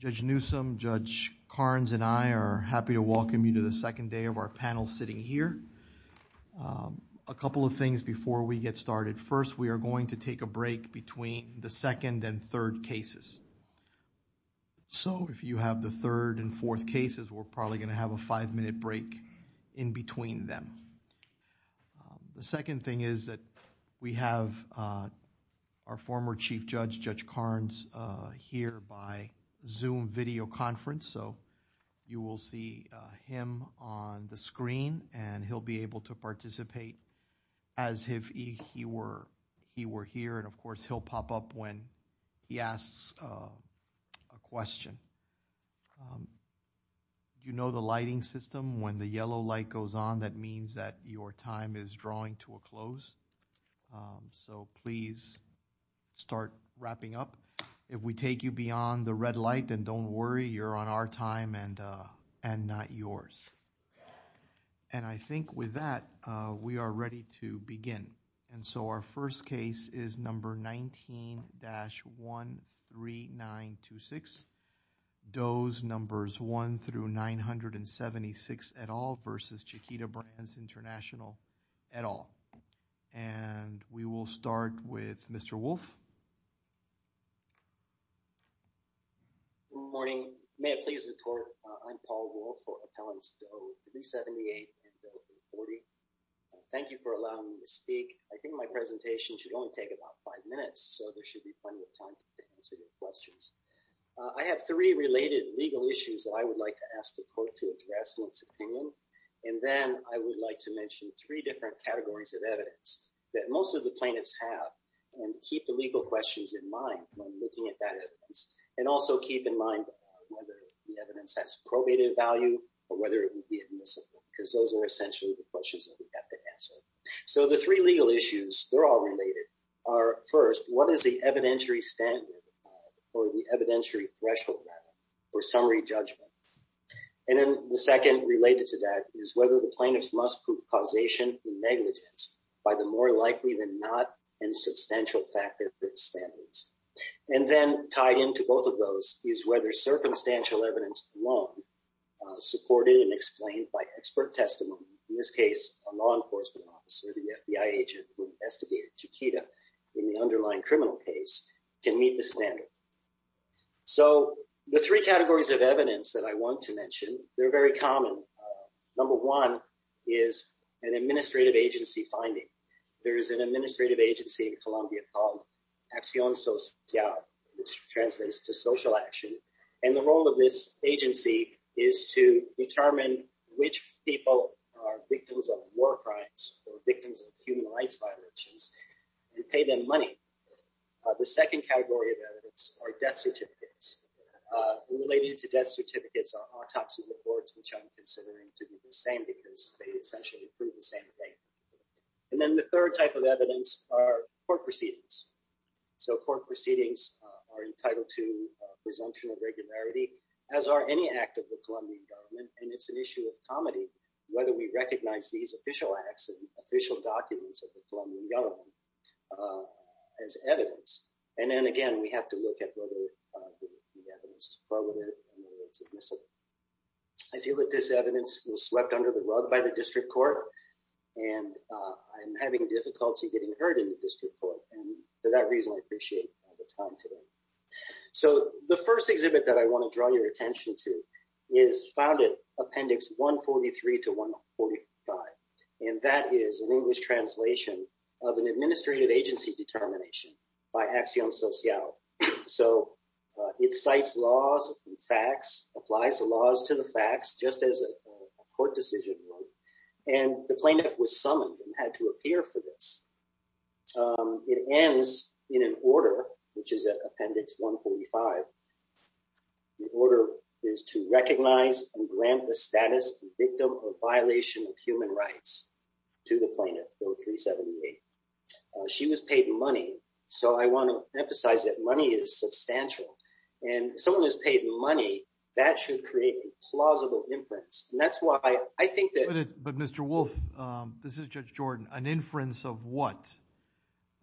Judge Newsom, Judge Karnes, and I are happy to welcome you to the second day of our panel sitting here. A couple of things before we get started. First, we are going to take a break between the second and third cases. So, if you have the third and fourth cases, we're probably going to have a five-minute break in between them. The second thing is that we have our former Chief Judge, Judge Karnes, here by Zoom video conference. So, you will see him on the screen, and he'll be able to participate as if he were here. And, of course, he'll pop up when he asks a question. You know the lighting system. When the yellow light goes on, that means that your time is drawing to a close. So, please start wrapping up. If we take you beyond the red light, then don't worry. You're on our time and not yours. And I think with that, we are ready to begin. And so, our first case is number 19-13926. Those numbers 1 through 976 et al. versus Chiquita Brands International et al. Good morning. May it please the Court, I'm Paul Wolf for Appellants to O378 and O340. Thank you for allowing me to speak. I think my presentation should only take about five minutes, so there should be plenty of time to answer your questions. I have three related legal issues that I would like to ask the Court to address in its opinion. And then I would like to mention three different categories of evidence that most of the plaintiffs have and keep the legal questions in mind when looking at that evidence. And also keep in mind whether the evidence has probated value or whether it would be admissible, because those are essentially the questions that we have to answer. So, the three legal issues, they're all related, are first, what is the evidentiary standard or the evidentiary threshold or summary judgment? And then the second related to that is whether the plaintiffs must prove causation and negligence by the more likely than not and substantial fact that fits standards. And then tied into both of those is whether circumstantial evidence alone, supported and explained by expert testimony, in this case, a law enforcement officer, the FBI agent who investigated Chiquita in the underlying criminal case, can meet the standard. So, the three categories of evidence that I want to mention, they're very common. Number one is an administrative agency finding. There is an administrative agency in Colombia called Acción Social, which translates to social action. And the role of this agency is to determine which people are victims of war crimes or victims of human rights violations and pay them money. The second category of evidence are death certificates. Related to death certificates are autopsy reports, which I'm considering to be the same because they essentially prove the same thing. And then the third type of evidence are court proceedings. So, court proceedings are entitled to presumption of regularity, as are any act of the Colombian government. And it's an issue of comity whether we recognize these official acts and official documents of the Colombian government as evidence. And then, again, we have to look at whether the evidence is quoted and whether it's admissible. I feel that this evidence was swept under the rug by the district court, and I'm having difficulty getting heard in the district court. And for that reason, I appreciate the time today. So, the first exhibit that I want to draw your attention to is Founded Appendix 143 to 145. And that is an English translation of an administrative agency determination by Acción Social. So, it cites laws and facts, applies the laws to the facts, just as a court decision would. And the plaintiff was summoned and had to appear for this. It ends in an order, which is at Appendix 145. The order is to recognize and grant the status of the victim of violation of human rights to the plaintiff, 1378. She was paid money. So, I want to emphasize that money is substantial. And if someone is paid money, that should create a plausible inference. And that's why I think that… But, Mr. Wolf, this is Judge Jordan. An inference of what?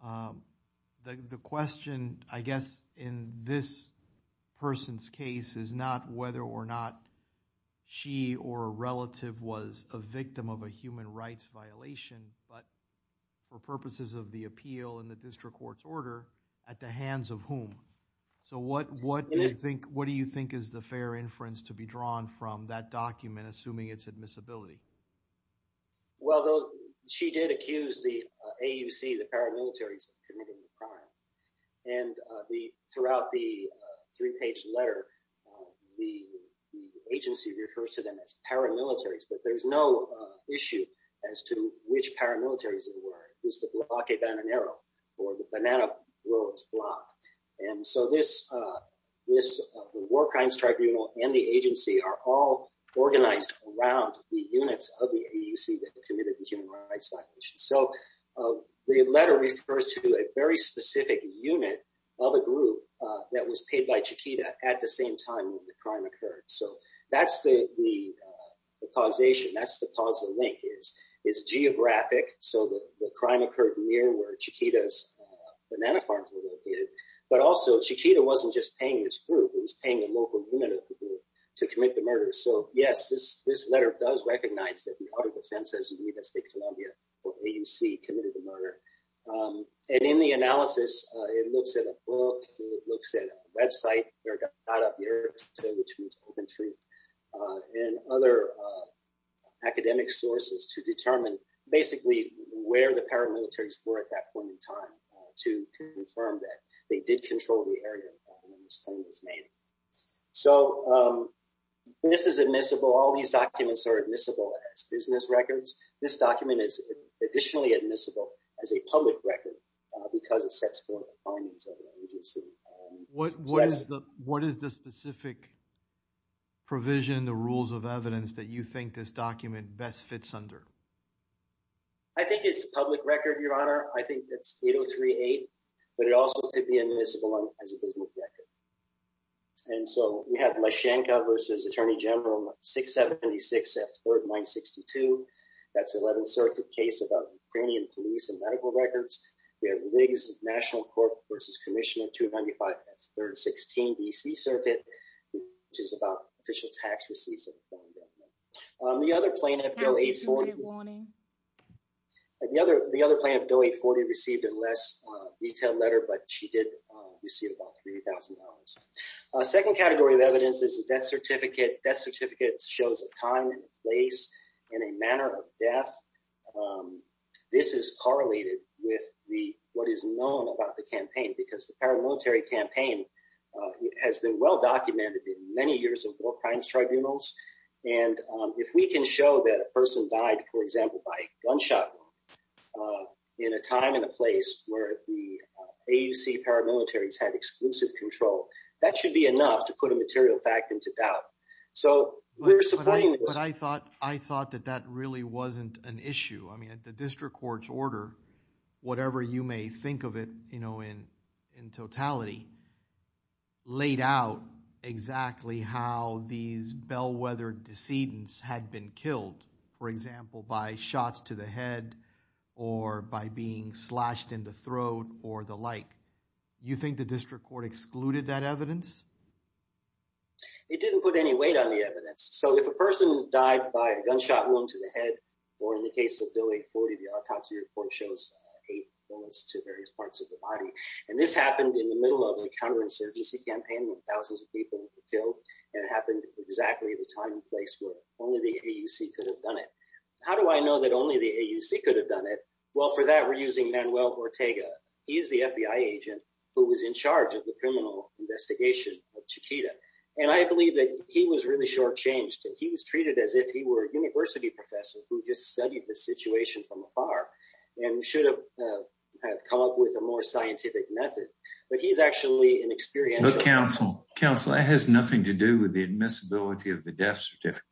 The question, I guess, in this person's case is not whether or not she or a relative was a victim of a human rights violation. But for purposes of the appeal in the district court's order, at the hands of whom? So, what do you think is the fair inference to be drawn from that document, assuming its admissibility? Well, she did accuse the AUC, the paramilitaries, of committing the crime. And throughout the three-page letter, the agency refers to them as paramilitaries. But there's no issue as to which paramilitaries it were. It used to be Akebananero, or the banana growers' block. And so, the War Crimes Tribunal and the agency are all organized around the units of the AUC that committed the human rights violations. So, the letter refers to a very specific unit of a group that was paid by Chiquita at the same time the crime occurred. So, that's the causation, that's the causal link. It's geographic, so the crime occurred near where Chiquita's banana farms were located. But also, Chiquita wasn't just paying this group, it was paying a local unit of the group to commit the murder. So, yes, this letter does recognize that the Auto Defensas Unidas de Colombia, or AUC, committed the murder. And in the analysis, it looks at a book, it looks at a website, which means Open Truth, and other academic sources to determine, basically, where the paramilitaries were at that point in time to confirm that they did control the area when this claim was made. So, this is admissible, all these documents are admissible as business records. This document is additionally admissible as a public record because it sets forth the findings of the AUC. What is the specific provision, the rules of evidence, that you think this document best fits under? I think it's a public record, Your Honor. I think it's 8038, but it also could be admissible as a business record. And so, we have Mashankov v. Attorney General, 676 at 3962. That's the 11th Circuit case about Ukrainian police and medical records. We have Riggs National Court v. Commission in 295 at 316 B.C. Circuit, which is about official tax receipts. The other plaintiff, Doe 840, received a less detailed letter, but she did receive about $3,000. The second category of evidence is the death certificate. The death certificate shows a time and place and a manner of death. This is correlated with what is known about the campaign because the paramilitary campaign has been well documented in many years of war crimes tribunals. And if we can show that a person died, for example, by a gunshot wound in a time and a place where the AUC paramilitaries had exclusive control, that should be enough to put a material fact into doubt. I thought that that really wasn't an issue. I mean, at the district court's order, whatever you may think of it in totality, laid out exactly how these bellwethered decedents had been killed, for example, by shots to the head or by being slashed in the throat or the like. You think the district court excluded that evidence? It didn't put any weight on the evidence. So if a person died by a gunshot wound to the head, or in the case of Doe 840, the autopsy report shows eight bullets to various parts of the body. And this happened in the middle of the counterinsurgency campaign when thousands of people were killed. And it happened exactly at the time and place where only the AUC could have done it. How do I know that only the AUC could have done it? Well, for that, we're using Manuel Ortega. He is the FBI agent who was in charge of the criminal investigation of Chiquita. And I believe that he was really shortchanged. He was treated as if he were a university professor who just studied the situation from afar and should have come up with a more scientific method. But he's actually an experienced... But, counsel, that has nothing to do with the admissibility of the death certificate.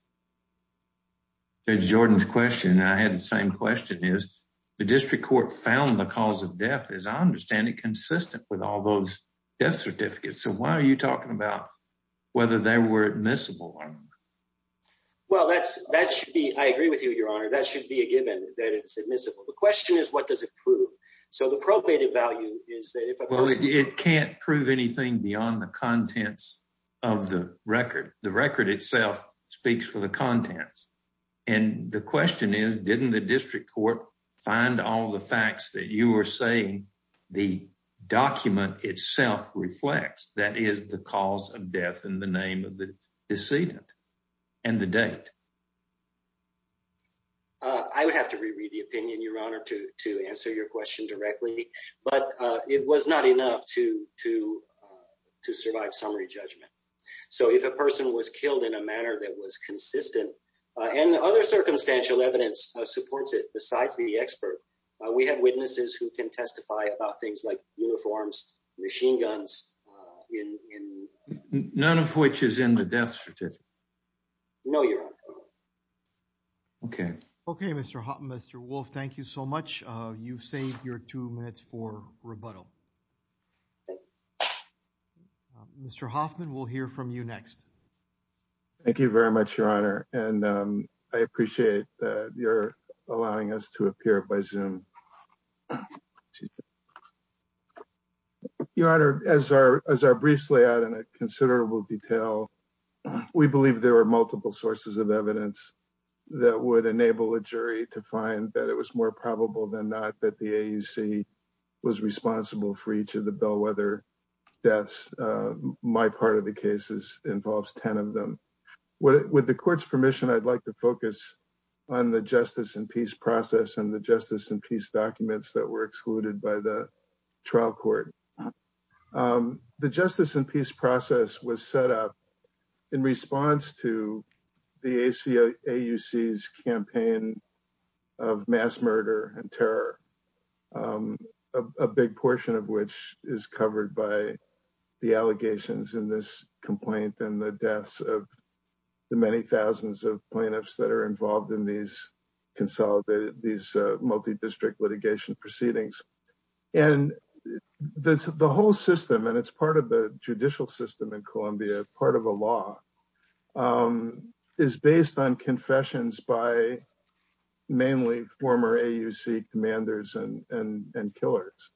Judge Jordan's question, and I had the same question, is the district court found the cause of death, as I understand it, consistent with all those death certificates. So why are you talking about whether they were admissible or not? That should be a given that it's admissible. The question is, what does it prove? So the probated value is... Well, it can't prove anything beyond the contents of the record. The record itself speaks for the contents. And the question is, didn't the district court find all the facts that you were saying the document itself reflects? That is, the cause of death and the name of the decedent and the date. I would have to re-read the opinion, Your Honor, to answer your question directly. But it was not enough to survive summary judgment. So if a person was killed in a manner that was consistent, and other circumstantial evidence supports it besides the expert, we have witnesses who can testify about things like uniforms, machine guns... None of which is in the death certificate. No, Your Honor. Okay. Okay, Mr. Hoffman, Mr. Wolf, thank you so much. You've saved your two minutes for rebuttal. Mr. Hoffman, we'll hear from you next. Thank you very much, Your Honor. And I appreciate your allowing us to appear by Zoom. Your Honor, as I briefly added in considerable detail, we believe there are multiple sources of evidence that would enable a jury to find that it was more probable than not that the AUC was responsible for each of the Bellwether deaths. My part of the case involves 10 of them. With the court's permission, I'd like to focus on the justice and peace process and the justice and peace documents that were excluded by the trial court. The justice and peace process was set up in response to the AUC's campaign of mass murder and terror, a big portion of which is covered by the allegations in this complaint and the deaths of the many thousands of plaintiffs that are involved in these multidistrict litigation proceedings. And the whole system, and it's part of the judicial system in Columbia, part of the law, is based on confessions by mainly former AUC commanders and killers.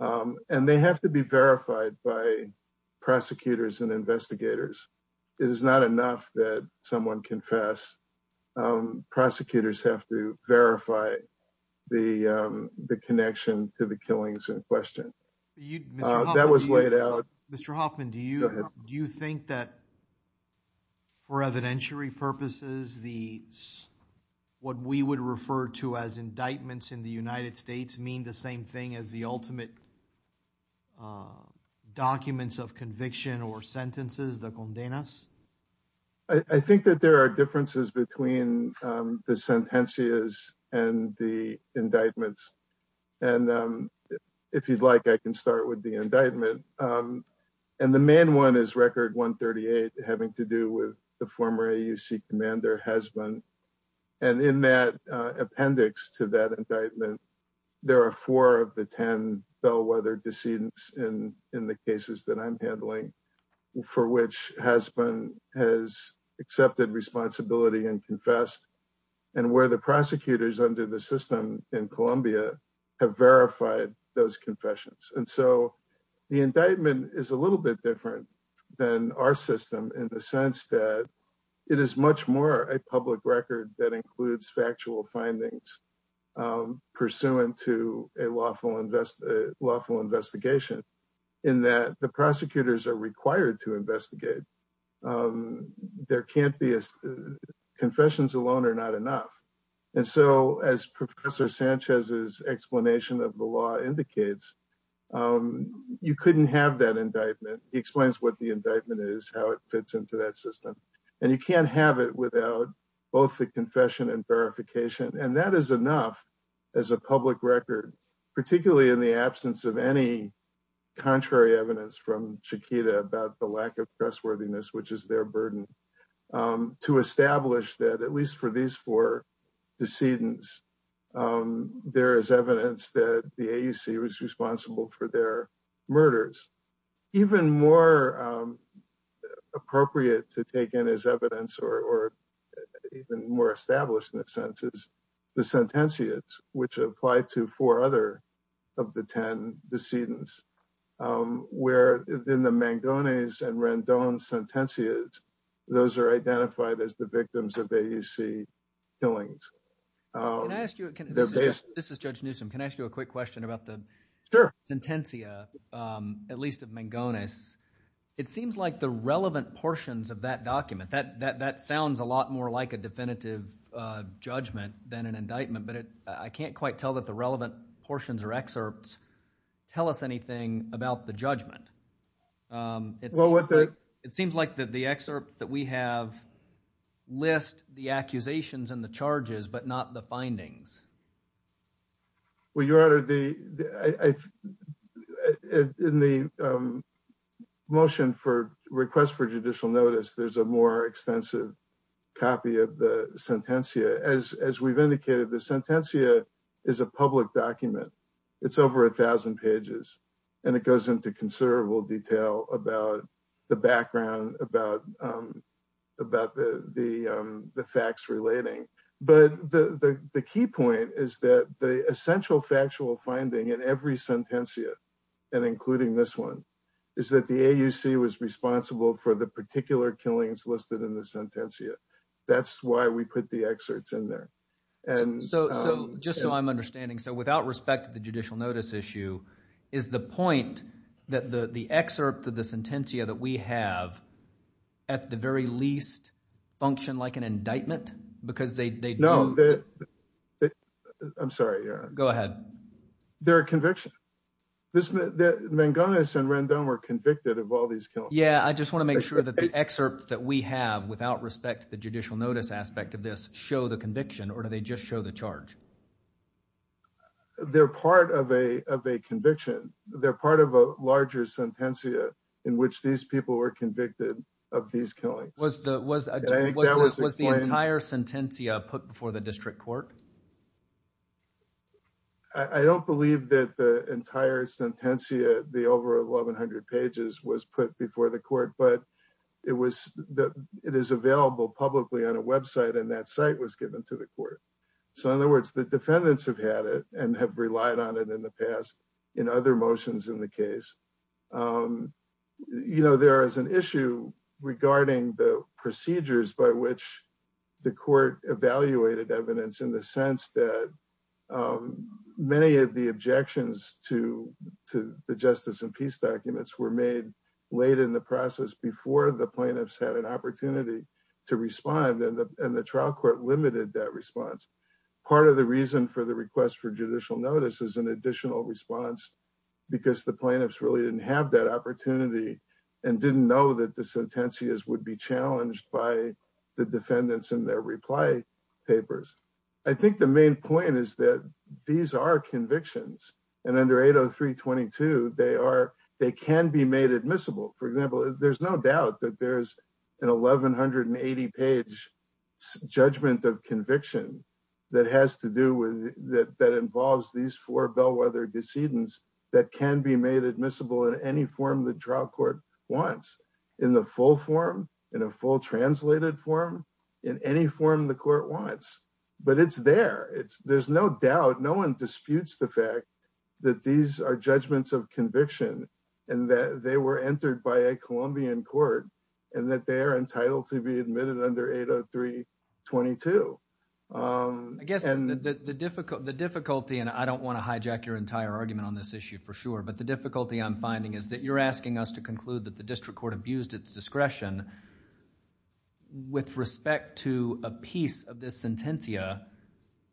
And they have to be verified by prosecutors and investigators. It is not enough that someone confess. Prosecutors have to verify the connection to the killings in question. That was laid out. Mr. Hoffman, do you think that for evidentiary purposes, what we would refer to as indictments in the United States mean the same thing as the ultimate documents of conviction or sentences, the condenas? I think that there are differences between the sentences and the indictments. And if you'd like, I can start with the indictment. And the main one is record 138 having to do with the former AUC commander, Hasbun. And in that appendix to that indictment, there are four of the 10 bellwether decedents in the cases that I'm handling for which Hasbun has accepted responsibility and confessed and where the prosecutors under the system in Columbia have verified those confessions. And so the indictment is a little bit different than our system in the sense that it is much more a public record that includes factual findings pursuant to a lawful investigation in that the prosecutors are required to investigate. Confessions alone are not enough. And so as Professor Sanchez's explanation of the law indicates, you couldn't have that indictment. He explains what the indictment is, how it fits into that system. And you can't have it without both the confession and verification. And that is enough as a public record, particularly in the absence of any contrary evidence from Chiquita about the lack of trustworthiness, which is their burden, to establish that at least for these four decedents, there is evidence that the AUC was responsible for their murders. Even more appropriate to take in as evidence or even more established in a sense is the sentenciates, which apply to four other of the 10 decedents, where in the Mangones and Randon sentencias, those are identified as the victims of AUC killings. This is Judge Newsom. Can I ask you a quick question about the sentencia, at least of Mangones? It seems like the relevant portions of that document, that sounds a lot more like a definitive judgment than an indictment, but I can't quite tell that the relevant portions or excerpts tell us anything about the judgment. It seems like the excerpt that we have lists the accusations and the charges, but not the findings. Well, Your Honor, in the motion for request for judicial notice, there's a more extensive copy of the sentencia. As we've indicated, the sentencia is a public document. It's over 1,000 pages, and it goes into considerable detail about the background, about the facts relating. But the key point is that the essential factual finding in every sentencia, and including this one, is that the AUC was responsible for the particular killings listed in the sentencia. That's why we put the excerpts in there. So just so I'm understanding, so without respect to the judicial notice issue, is the point that the excerpt for the sentencia that we have, at the very least, function like an indictment? Because they don't. No. I'm sorry, Your Honor. Go ahead. They're a conviction. Mangones and Rendon were convicted of all these killings. Yeah, I just want to make sure that the excerpt that we have, without respect to the judicial notice aspect of this, show the conviction or do they just show the charge? They're part of a conviction. They're part of a larger sentencia in which these people were convicted of these killings. Was the entire sentencia put before the district court? I don't believe that the entire sentencia, the over 1,100 pages, was put before the court, but it is available publicly on a website, and that site was given to the court. So in other words, the defendants have had it and have relied on it in the past in other motions in the case. You know, there is an issue regarding the procedures by which the court evaluated evidence in the sense that many of the objections to the justice and peace documents were made late in the process before the plaintiffs had an opportunity to respond and the trial court limited that response. Part of the reason for the request for judicial notice is an additional response because the plaintiffs really didn't have that opportunity and didn't know that the sentencias would be challenged by the defendants and their reply papers. I think the main point is that these are convictions and under 80322, they can be made admissible. For example, there's no doubt that there's an 1,180 page judgment of conviction that has to do with that involves these four bellwether decedents that can be made admissible in any form the trial court wants in the full form, in a full translated form, in any form the court wants, but it's there. There's no doubt. No one disputes the fact that these are judgments of conviction and that they were entered by a Colombian court and that they are entitled to be admitted under 80322. I guess the difficulty, and I don't want to hijack your entire argument on this issue for sure, but the difficulty I'm finding is that you're asking us to conclude that the district court abused its discretion with respect to a piece of this document.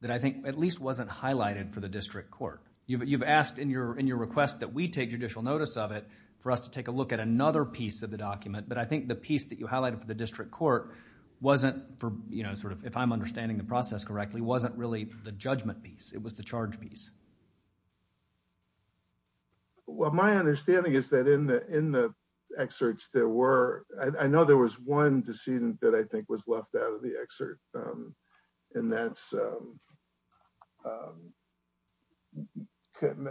And I don't think that that piece of the document was highlighted for the district court. You've asked in your, in your request that we take judicial notice of it. For us to take a look at another piece of the document. But I think the piece that you highlighted for the district court. Wasn't for, you know, sort of, if I'm understanding the process correctly, wasn't really the judgment piece. It was the charge piece. Well, my understanding is that in the, in the. Excerpts there were, I know there was one. that was the only decedent that I think was left out of the excerpt. And that's. Can.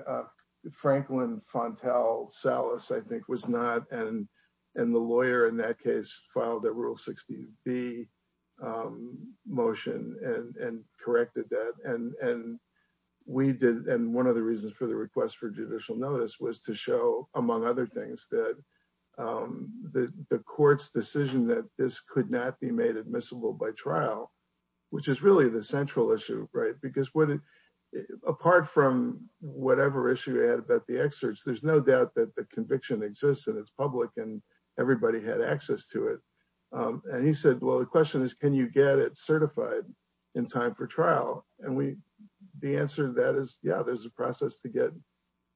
Franklin. I think was not. And the lawyer in that case filed a rule 60 B. Motion and corrected that. And, and. I think that was the case. And we did. And one of the reasons for the request for judicial notice was to show, among other things that. The courts decision that this could not be made admissible by trial. Which is really the central issue, right? Because what. Apart from whatever issue. There's no doubt that the conviction exists and it's public and everybody had access to it. And so the question was, can you get it certified in time for trial? And he said, well, the question is, can you get it certified? In time for trial. And we. The answer to that is yeah. There's a process to get.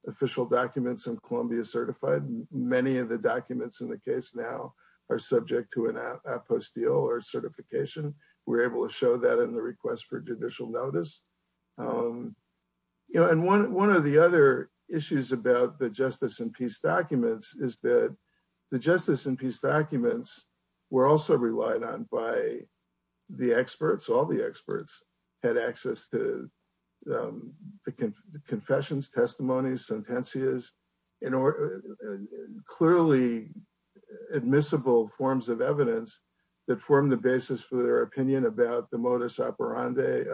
Official documents and Columbia certified. Many of the documents in the case now. Are subject to an app. I post deal or certification. We're able to show that in the request for judicial notice. You know, and one, one of the other issues about the justice and peace documents is that. The justice and peace documents. We're also relied on by. The experts, all the experts. Had access to. The confessions, testimonies, sentences. In order. Clearly. The. The admissible forms of evidence. That form the basis for their opinion about the modus operandi.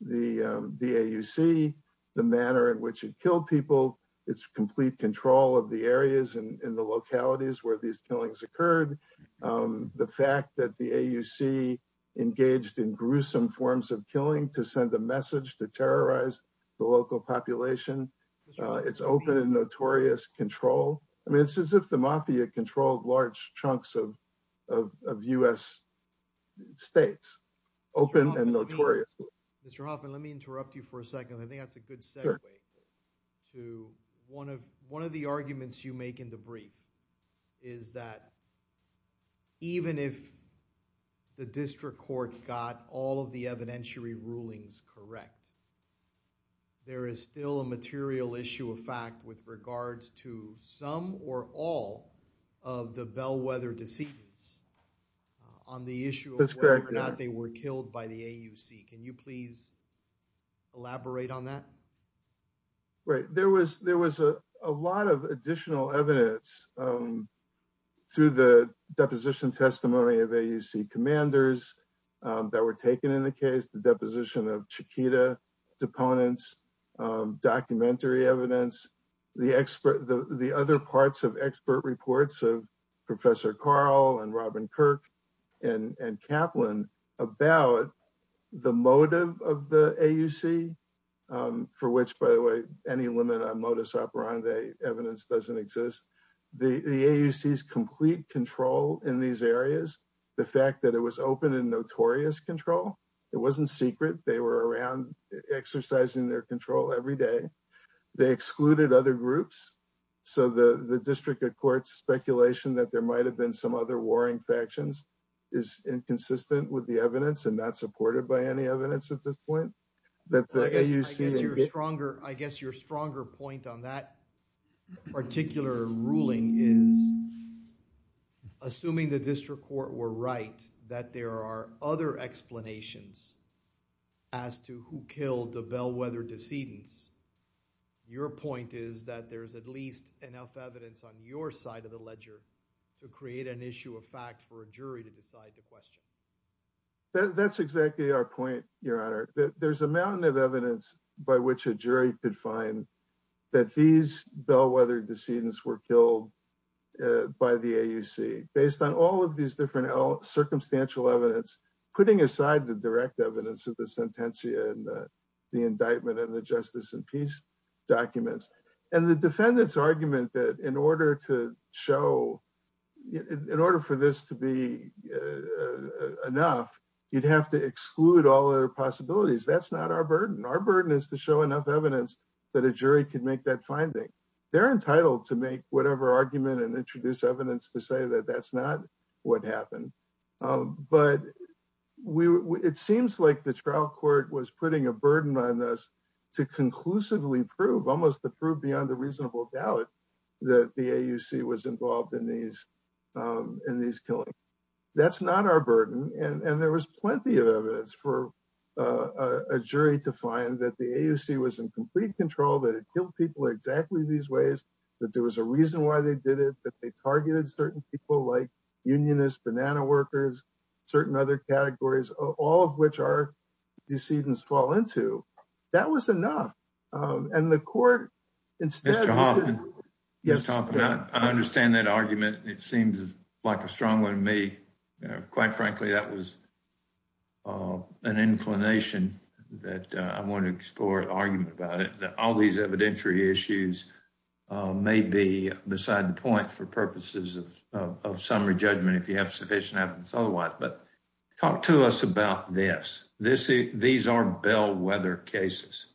The BAUC. The manner in which you kill people. It's complete control of the areas and the localities where these feelings occurred. The fact that the AUC. It's open and notorious control. Engaged in gruesome forms of killing to send a message to terrorize. The local population. It's open and notorious control. I mean, it's as if the mafia controlled large chunks of. Of us. States. Open and notorious. Let me interrupt you for a second. I think that's a good step. To one of, one of the arguments you make in the brief. Is that. Even if. The district court got all of the evidentiary rulings. Correct. There is still a material issue of fact with regards to some or all of the bellwether disease. On the issue. They were killed by the AUC. Can you please. Elaborate on that. Right. There was, there was a. A lot of additional evidence. To the deposition testimony of AUC commanders. That were taken in the case, the deposition of Chiquita. Deponents. Documentary evidence. The expert, the other parts of expert reports of professor Carl and Robin Kirk. And Kaplan. I think there's a lot of additional evidence. To the deposition. About. The motive of the AUC. For which, by the way, any limit on modus operandi evidence doesn't exist. The. Complete control in these areas. The fact that it was open and notorious control. It wasn't secret. They were around exercising their control every day. They excluded other groups. So the, the district of courts speculation that there might've been some other warring factions. Is inconsistent with the evidence and not supported by any evidence at this point. That. Stronger, I guess your stronger point on that. Particular ruling. Assuming the district court were right. That there are other explanations. As to who killed the bellwether decedent. Your point is that there's at least enough evidence on your side of the ledger. To create an issue of fact for a jury to decide the question. That's exactly our point. There's a mountain of evidence by which a jury could find. That these bellwether decedents were killed. By the AUC based on all of these different circumstantial evidence, putting aside the direct evidence of the sentence. And the, the indictment and the justice and peace documents and the defendants argument that in order to show. In order for this to be enough, you'd have to exclude all other possibilities. That's not our burden. Our burden is to show enough evidence that a jury can make that finding they're entitled to make whatever argument and introduce evidence to say that that's not what happened. But we, it seems like the trial court was putting a burden on us to conclusively prove, almost to prove beyond a reasonable doubt that the AUC was involved in these, in these killings. That's not our burden. And there was plenty of evidence for a jury to find that the AUC was in complete control that it killed people exactly these ways. That there was a reason why they did it that they targeted certain people like unionists, banana workers, certain other categories. All of which are, you see this fall into that was enough. And the court. Yes. I understand that argument. It seems like a strong one. May quite frankly, that was. An inclination that I want to explore an argument about it, that all these evidentiary issues may be beside the point for purposes of summary judgment. If you have sufficient evidence otherwise, but talk to us about this, this, these are bellwether cases.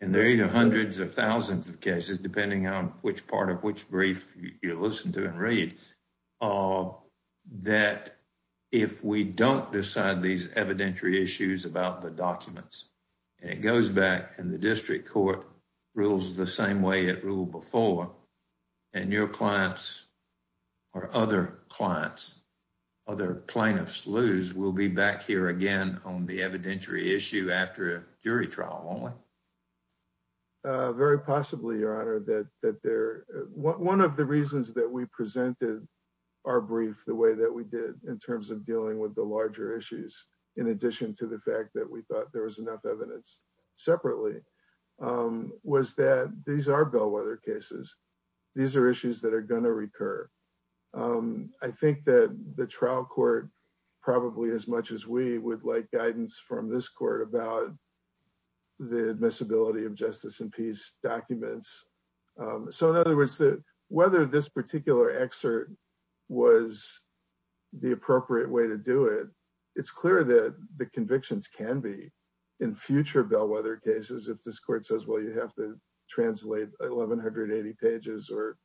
And there are either hundreds of thousands of cases, depending on which part of which brief you listen to and read. That if we don't decide these evidentiary issues about the documents, it goes back and the district court rules the same way it ruled before. And your clients or other clients, lose we'll be back here again on the evidentiary issue after a jury trial, only. Very possibly your honor that, that there, one of the reasons that we presented our brief, the way that we did in terms of dealing with the larger issues, in addition to the fact that we thought there was enough evidence separately. Was that these are bellwether cases. These are issues that are going to recur. I think that the trial court probably as much as we would like guidance from this court about the admissibility of justice and peace documents. So in other words, whether this particular excerpt was the appropriate way to do it, it's clear that the convictions can be in future bellwether cases. If this court says, well, you have to translate 1180 pages or,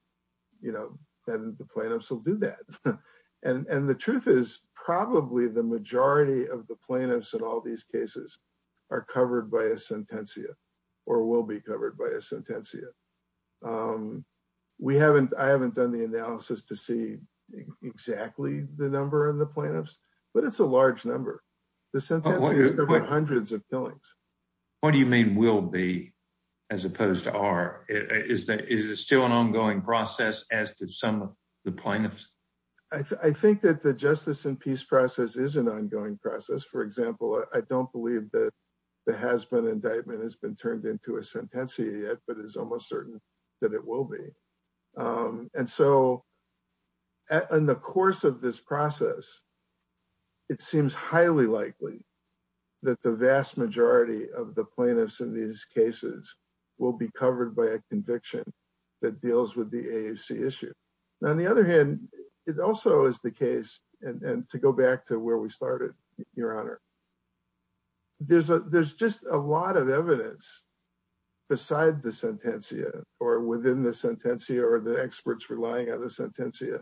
you know, you have to do this, you have to do that, then the plaintiffs will do that. And the truth is probably the majority of the plaintiffs in all these cases. Are covered by a sentencia or will be covered by a sentencia. We haven't, I haven't done the analysis to see exactly the number and the plaintiffs, but it's a large number. Hundreds of feelings. What do you mean will be as opposed to our, Is that, is it still an ongoing process as to some of the plaintiffs? I think that the justice and peace process is an ongoing process. For example, I don't believe that the husband indictment has been turned into a sentencia yet, but it's almost certain that it will be. And so in the course of this process, it seems highly likely that the vast majority of the plaintiffs in these cases will be covered by a conviction that deals with the issue. Now, on the other hand, it also is the case. And to go back to where we started your honor. There's a, there's just a lot of evidence. Beside the sentencia or within the sentencia or the experts relying on the sentencia.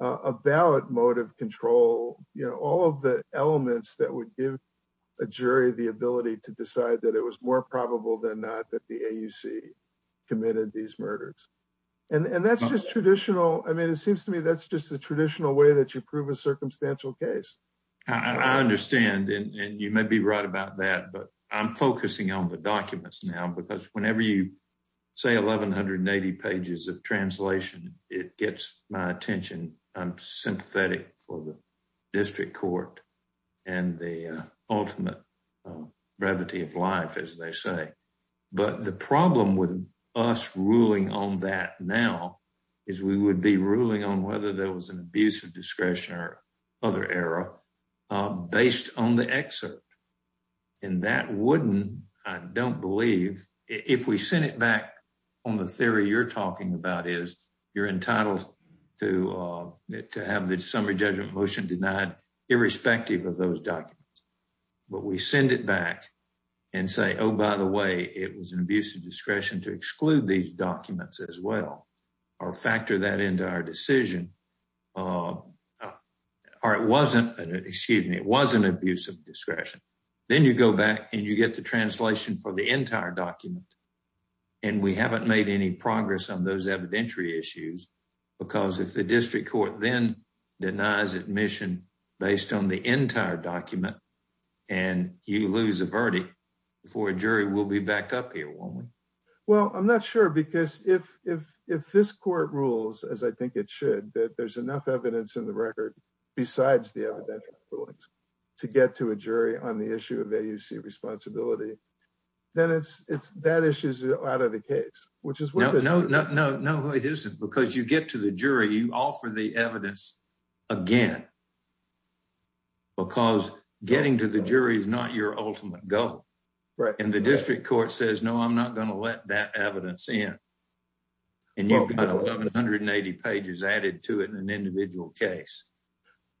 About motive control, you know, all of the elements that would give a jury the ability to decide that it was more probable than not that the AUC committed these murders. And that's just traditional. I mean, it seems to me, that's just the traditional way that you prove a circumstantial case. I understand. And you may be right about that, but I'm focusing on the documents now, because whenever you say 1180 pages of translation, it gets my attention. I'm sympathetic for the district court and the ultimate gravity of life as they say. But the problem with us ruling on that now is we would be ruling on whether there was an abuse of discretion or other error based on the exit. And that wouldn't, I don't believe if we send it back on the theory, you're talking about is you're entitled to, to have the summer judgment motion denied irrespective of those documents, but we send it back and say, Oh, by the way, it was an abuse of discretion to exclude these documents as well, or factor that into our decision. Or it wasn't an excuse me. It wasn't abuse of discretion. Then you go back and you get the translation for the entire document. And we haven't made any progress on those evidentiary issues because if the district court then denies admission based on the entire document, and you lose a verdict for a jury, we'll be back up here. Well, I'm not sure because if, if, if this court rules, as I think it should, that there's enough evidence in the record besides the evidence to get to a jury on the issue of AUC responsibility, then it's, it's, that issue is out of the case, which is. No, no, no, no. It isn't because you get to the jury, you offer the evidence again, because getting to the jury is not your ultimate goal. Right. And the district court says, no, I'm not going to let that evidence in. And you've got 180 pages added to it in an individual case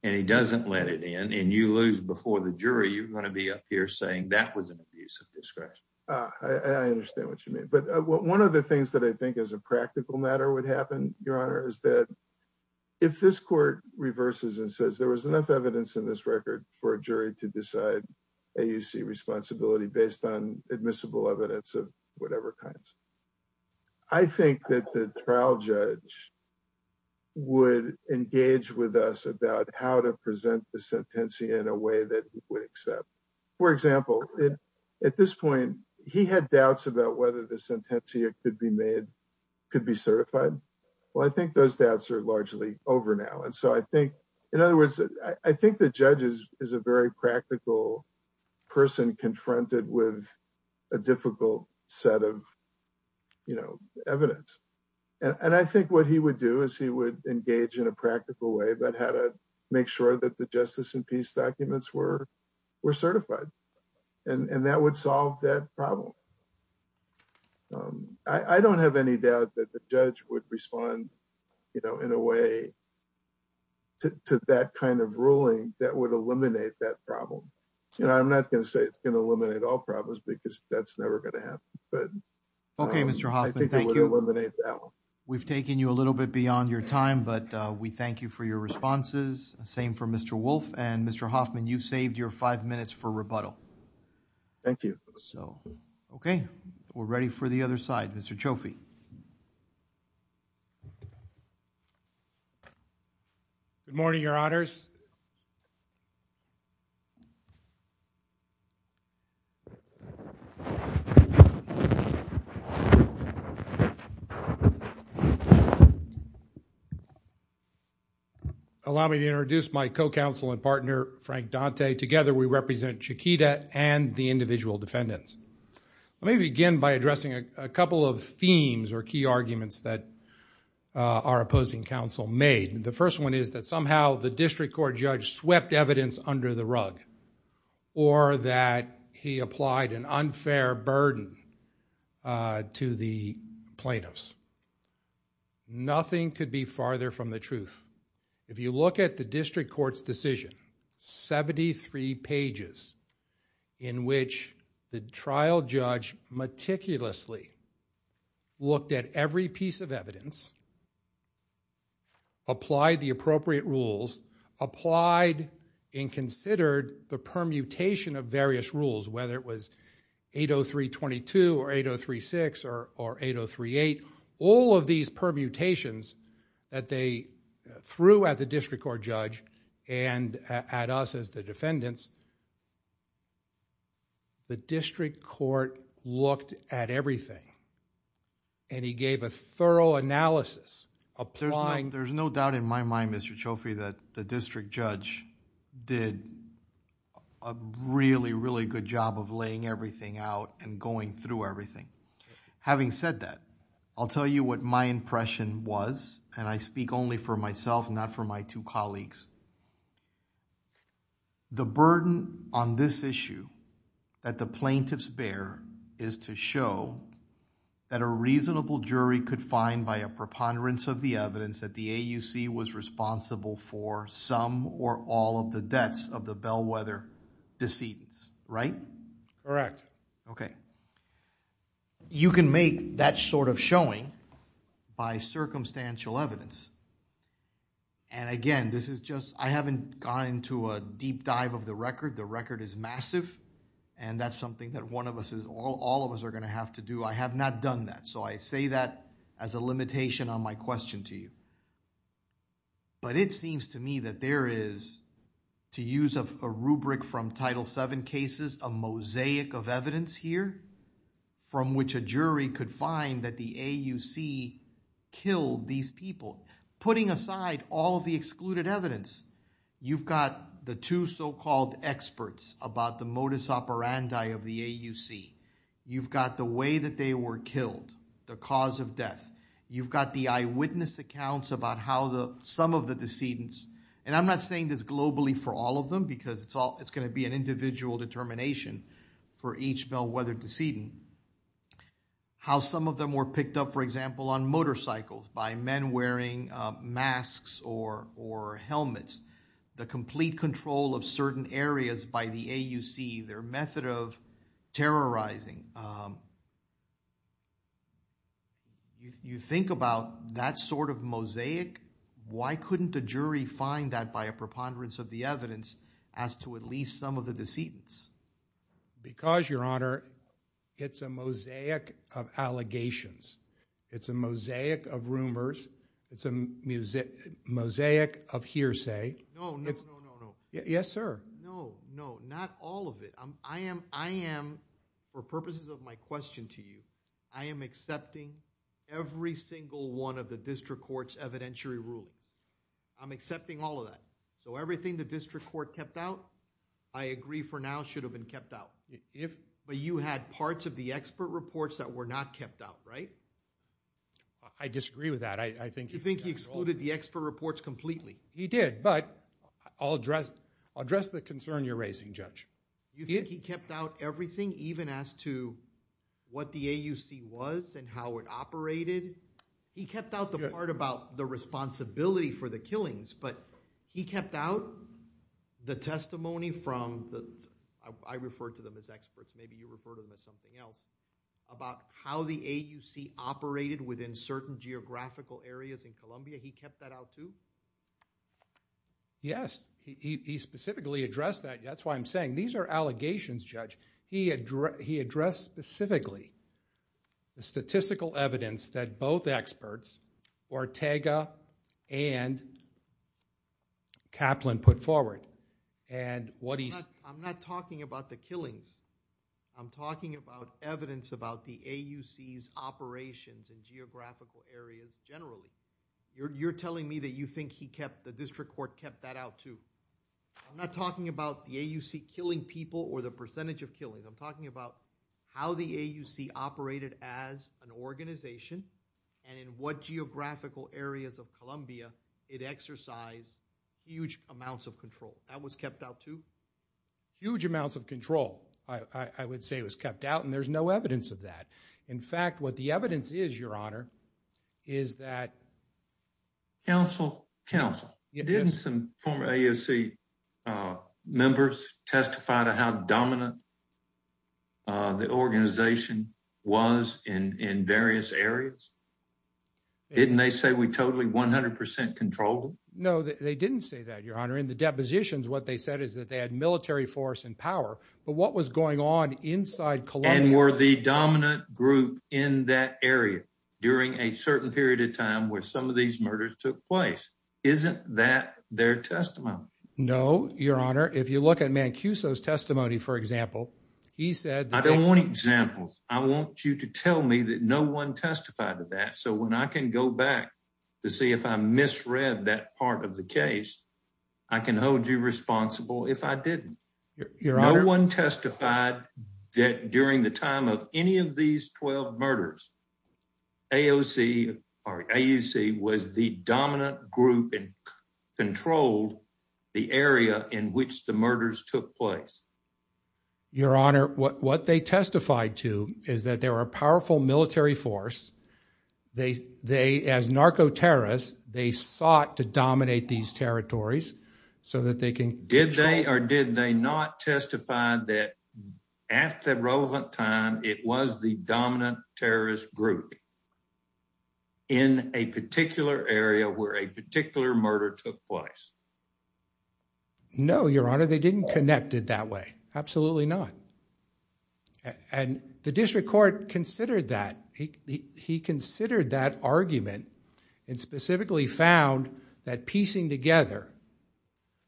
and he doesn't let it in and you lose before the jury. You're going to be up here saying that was an abuse of discretion. I understand what you mean. But one of the things that I think as a practical matter would happen, your honor, is that if this court reverses and says, there was enough evidence in this record for a jury to decide AUC responsibility based on admissible evidence of whatever kinds, I think that the trial judge would engage with us about how to present the sentencing in a way that he would accept. For example, at this point he had doubts about whether the sentencing could be made, but I think those doubts are largely over now. And so I think, in other words, I think the judge is, is a very practical person confronted with a difficult set of evidence. And I think what he would do is he would engage in a practical way about how to make sure that the justice and peace documents were, were certified. And that would solve that problem. I don't have any doubt that the judge would respond, you know, in a way to that kind of ruling that would eliminate that problem. You know, I'm not going to say it's going to eliminate all problems because that's never going to happen. Okay. Mr. Hoffman, thank you. We've taken you a little bit beyond your time, but we thank you for your responses. Same for Mr. Wolf and Mr. Hoffman, you've saved your five minutes for rebuttal. Thank you. So, okay. We're ready for the other side, Mr. Chofi. Good morning, your honors. Allow me to introduce my co-counsel and partner, Frank Dante. Today, together we represent Chiquita and the individual defendants. Let me begin by addressing a couple of themes or key arguments that our opposing counsel made. The first one is that somehow the district court judge swept evidence under the rug or that he applied an unfair burden to the plaintiffs. Nothing could be farther from the truth. If you look at the district court's decision, 73 pages in which the trial judge meticulously looked at every piece of evidence, applied the appropriate rules, applied and considered the permutation of various rules, whether it was 803.22 or 803.6 or 803.8, all of these permutations that they threw at the district court judge and at us as the defendants, the district court looked at everything and he gave a thorough analysis. There's no doubt in my mind, Mr. Chofi, that the district judge did a really, really good job of laying everything out and going through everything. Having said that, I'll tell you what my impression was and I speak only for myself and not for my two colleagues. The burden on this issue that the plaintiffs bear is to show that a reasonable jury could find by a preponderance of the evidence that the AUC was responsible for some or all of the debts of the Bellwether decedents, right? Correct. Okay. You can make that sort of showing by circumstantial evidence. And again, this is just, I haven't gone into a deep dive of the record. The record is massive and that's something that one of us, all of us are going to have to do. I have not done that. So I say that as a limitation on my question to you. But it seems to me that there is, to use a rubric from Title VII cases, there is a mosaic of evidence here from which a jury could find that the AUC killed these people. Putting aside all of the excluded evidence, you've got the two so-called experts about the modus operandi of the AUC. You've got the way that they were killed, the cause of death. You've got the eyewitness accounts about how some of the decedents, and I'm not saying this globally for all of them because it's all, it's going to be an individual determination for each Bellwether decedent, how some of them were picked up, for example, on motorcycles, by men wearing masks or helmets. The complete control of certain areas by the AUC, their method of terrorizing. You think about that sort of mosaic. Why couldn't the jury find that by a preponderance of the evidence as to at least some of the decedents? Because, Your Honor, it's a mosaic of allegations. It's a mosaic of rumors. It's a mosaic of hearsay. No, no, no, no. Yes, sir. No, no, not all of it. I am, for purposes of my question to you, I am accepting every single one of the district court's evidentiary rules. I'm accepting all of that. So everything the district court kept out, I agree for now, should have been kept out. But you had parts of the expert reports that were not kept out, right? I disagree with that. You think he excluded the expert reports completely? He did, but I'll address the concern you're raising, Judge. You think he kept out everything, even as to what the AUC was and how it operated? He kept out the part about the responsibility for the killings, but he kept out the testimony from the, I refer to them as experts, maybe you refer to them as something else, about how the AUC operated within certain geographical areas in Columbia. He kept that out too? Yes, he specifically addressed that. That's why I'm saying these are allegations, Judge. He addressed specifically the statistical evidence that both experts, Ortega and Kaplan, put forward. I'm not talking about the killings. I'm talking about evidence about the AUC's operations in geographical areas generally. You're telling me that you think the district court kept that out too. I'm not talking about the AUC killing people or the percentage of killings. I'm talking about how the AUC operated as an organization and in what geographical areas of Columbia it exercised huge amounts of control. That was kept out too? Huge amounts of control, I would say, was kept out, and there's no evidence of that. In fact, what the evidence is, Your Honor, is that... Counsel, counsel, didn't some former AUC members testify to how dominant the organization was in various areas? Didn't they say we totally 100% controlled them? No, they didn't say that, Your Honor. In the depositions, what they said is that they had military force and power, but what was going on inside Columbia... And were the dominant group in that area during a certain period of time where some of these murders took place? Isn't that their testimony? No, Your Honor. If you look at Mancuso's testimony, for example, he said... I don't want examples. I want you to tell me that no one testified to that so when I can go back to see if I misread that part of the case, I can hold you responsible if I didn't. No one testified that during the time of any of these 12 murders, AUC was the dominant group and controlled the area in which the murders took place. Your Honor, what they testified to is that they were a powerful military force. They, as narco-terrorists, they sought to dominate these territories so that they can... Did they or did they not testify that at the relevant time it was the dominant terrorist group in a particular area where a particular murder took place? No, Your Honor, they didn't connect it that way. Absolutely not. And the district court considered that. He considered that argument and specifically found that piecing together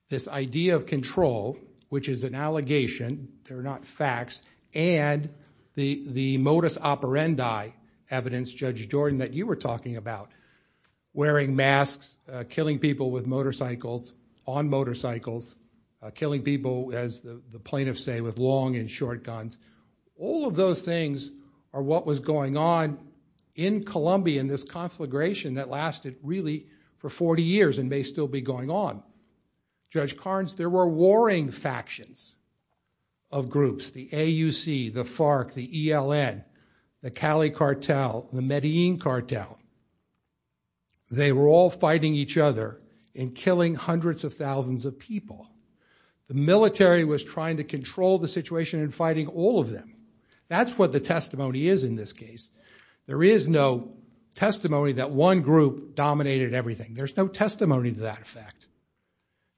this idea of control, which is an allegation, they're not facts, and the modus operandi evidence, Judge Jordan, that you were talking about, wearing masks, killing people with motorcycles, on motorcycles, killing people, as the plaintiffs say, with long and short guns, all of those things are what was going on in Columbia in this conflagration that lasted really for 40 years and may still be going on. Judge Carnes, there were warring factions of groups. The AUC, the FARC, the ELN, the Cali Cartel, the Medellin Cartel. They were all fighting each other and killing hundreds of thousands of people. The military was trying to control the situation and fighting all of them. That's what the testimony is in this case. There is no testimony that one group dominated everything. There's no testimony to that effect.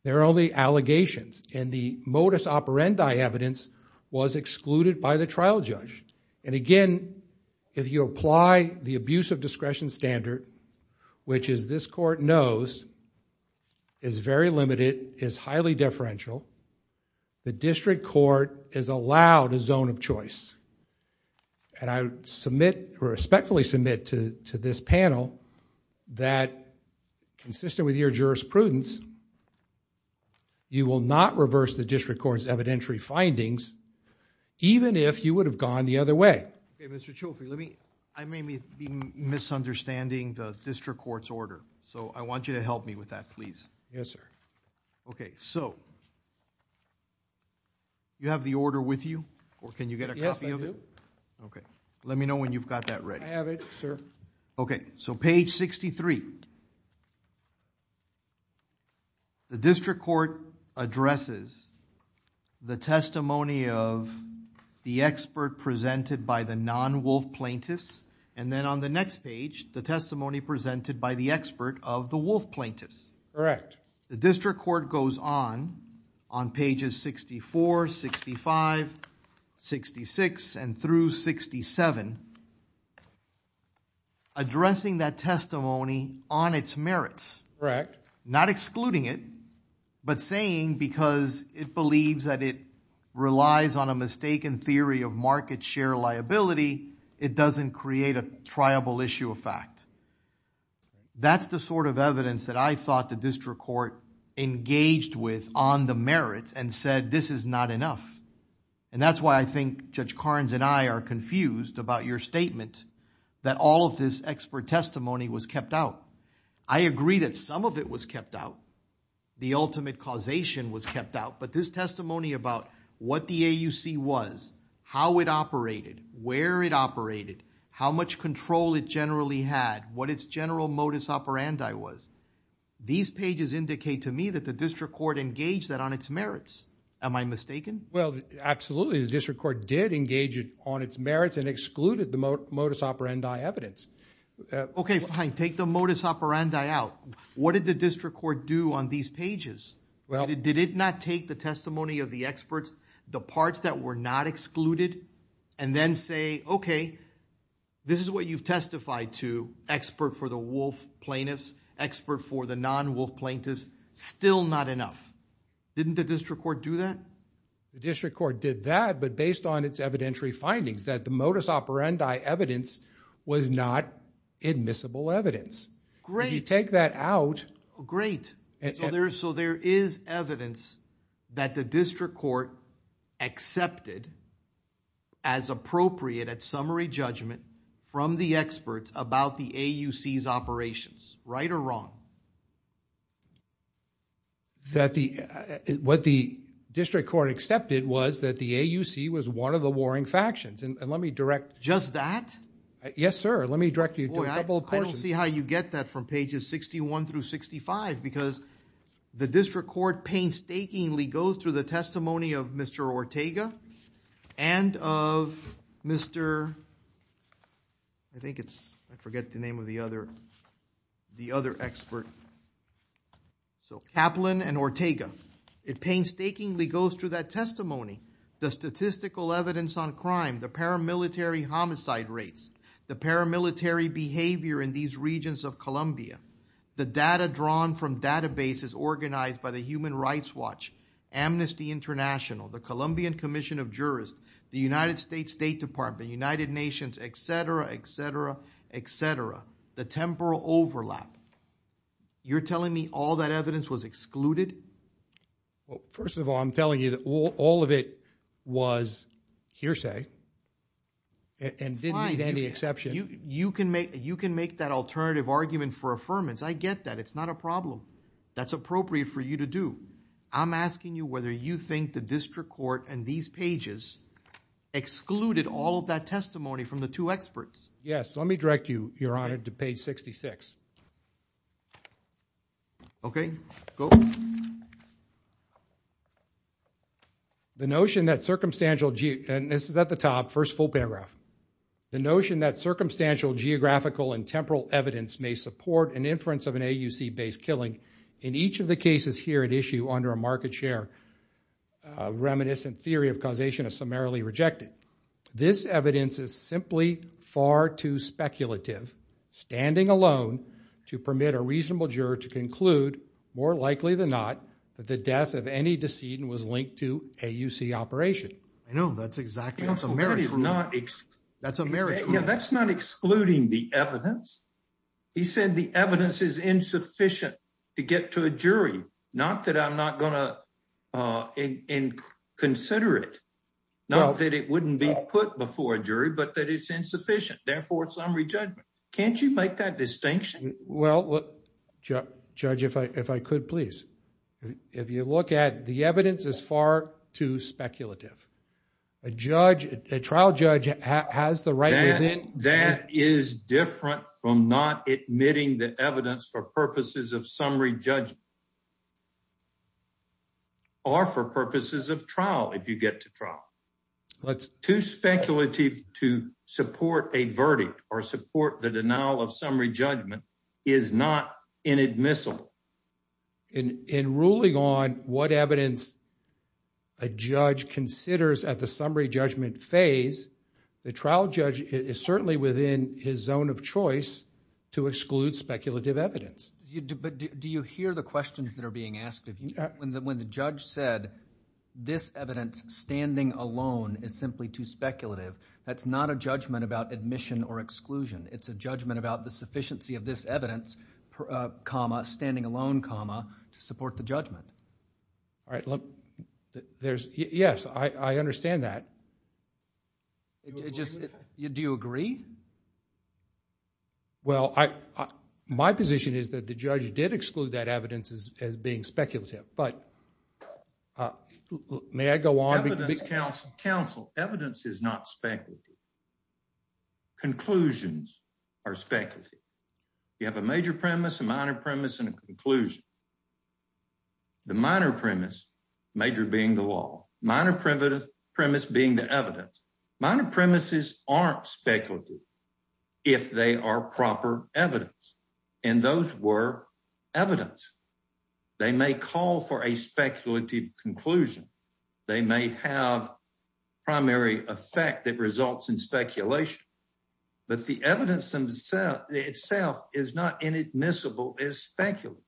There are only allegations. The modus operandi evidence was excluded by the trial judge. Again, if you apply the abuse of discretion standard, which this court knows is very limited, is highly differential, the district court is allowed a zone of choice. I respectfully submit to this panel that consistent with your jurisprudence, you will not reverse the district court's evidentiary findings even if you would have gone the other way. Okay, Mr. Chauffeur, I may be misunderstanding the district court's order, so I want you to help me with that, please. Yes, sir. Okay, so you have the order with you? Yes, I do. Okay, let me know when you've got that ready. I have it, sir. Okay, so page 63. The district court addresses the testimony of the expert presented by the non-wolf plaintiffs, and then on the next page, the testimony presented by the expert of the wolf plaintiffs. Correct. The district court goes on, on pages 64, 65, 66, and through 67, addressing that testimony on its merits. Correct. Not excluding it, but saying because it believes that it relies on a mistaken theory of market share liability, it doesn't create a triable issue of fact. That's the sort of evidence that I thought the district court engaged with on the merits and said this is not enough. And that's why I think Judge Carnes and I are confused about your statement that all of this expert testimony was kept out. I agree that some of it was kept out. The ultimate causation was kept out, but this testimony about what the AUC was, how it operated, where it operated, how much control it generally had, what its general modus operandi was, these pages indicate to me that the district court engaged that on its merits. Am I mistaken? Well, absolutely. The district court did engage it on its merits and excluded the modus operandi evidence. Okay, fine, take the modus operandi out. What did the district court do on these pages? Did it not take the testimony of the experts, the parts that were not excluded, and then say, okay, this is what you've testified to, expert for the wolf plaintiffs, expert for the non-wolf plaintiffs, still not enough. Didn't the district court do that? The district court did that, but based on its evidentiary findings that the modus operandi evidence was not admissible evidence. Great. If you take that out... Great. So there is evidence that the district court accepted as appropriate at summary judgment from the experts about the AUC's operations, right or wrong? What the district court accepted was that the AUC was one of the warring factions. And let me direct... Just that? Yes, sir. Let me direct you to a couple of persons. I don't see how you get that from pages 61 through 65, because the district court painstakingly goes through the testimony of Mr. Ortega and of Mr. I think it's... I forget the name of the other expert. So Kaplan and Ortega. It painstakingly goes through that testimony. The statistical evidence on crime, the paramilitary homicide rates, the paramilitary behavior in these regions of Colombia, the data drawn from databases organized by the Human Rights Watch, Amnesty International, the Colombian Commission of Jurisdiction, the United States State Department, the United Nations, et cetera, et cetera, et cetera. The temporal overlap. You're telling me all that evidence was excluded? Well, first of all, I'm telling you all of it was hearsay and didn't need any exception. You can make that alternative argument for affirmance. I get that. It's not a problem. That's appropriate for you to do. I'm asking you whether you think the district court and these pages excluded all of that testimony from the two experts. Yes, let me direct you, Your Honor, to page 66. Okay, go. The notion that circumstantial... And this is at the top, first full paragraph. The notion that circumstantial geographical and temporal evidence may support an inference of an AUC-based killing in each of the cases here at issue under a market share reminiscent theory of causation is summarily rejected. This evidence is simply far too speculative, standing alone to permit a reasonable juror to conclude, more likely than not, that the death of any decedent was linked to AUC operation. I know. That's exactly... That's American. That's not excluding the evidence. He said the evidence is insufficient to get to a jury. Not that I'm not going to consider it. Not that it wouldn't be put before a jury, but that it's insufficient. Therefore, it's summary judgment. Can't you make that distinction? Well, Judge, if I could, please. If you look at it, the evidence is far too speculative. A trial judge has the right to... That is different from not admitting that evidence for purposes of summary judgment or for purposes of trial, if you get to trial. Too speculative to support a verdict or support the denial of summary judgment is not inadmissible. In ruling on what evidence a judge considers at the summary judgment phase, the trial judge is certainly within his zone of choice to exclude speculative evidence. But do you hear the questions that are being asked? When the judge said, this evidence standing alone is simply too speculative, that's not a judgment about admission or exclusion. It's a judgment about the sufficiency of this evidence, comma, standing alone, comma, to support the judgment. All right. Yes, I understand that. Do you agree? Well, my position is that the judge did exclude that evidence as being speculative. But may I go on? Counsel, evidence is not speculative. Conclusions are speculative. You have a major premise, a minor premise, and a conclusion. The minor premise, major being the law, minor premise being the evidence. Minor premises aren't speculative if they are proper evidence. And those were evidence. They may call for a speculative conclusion. They may have primary effect that results in speculation. But the evidence itself is not inadmissible as speculative.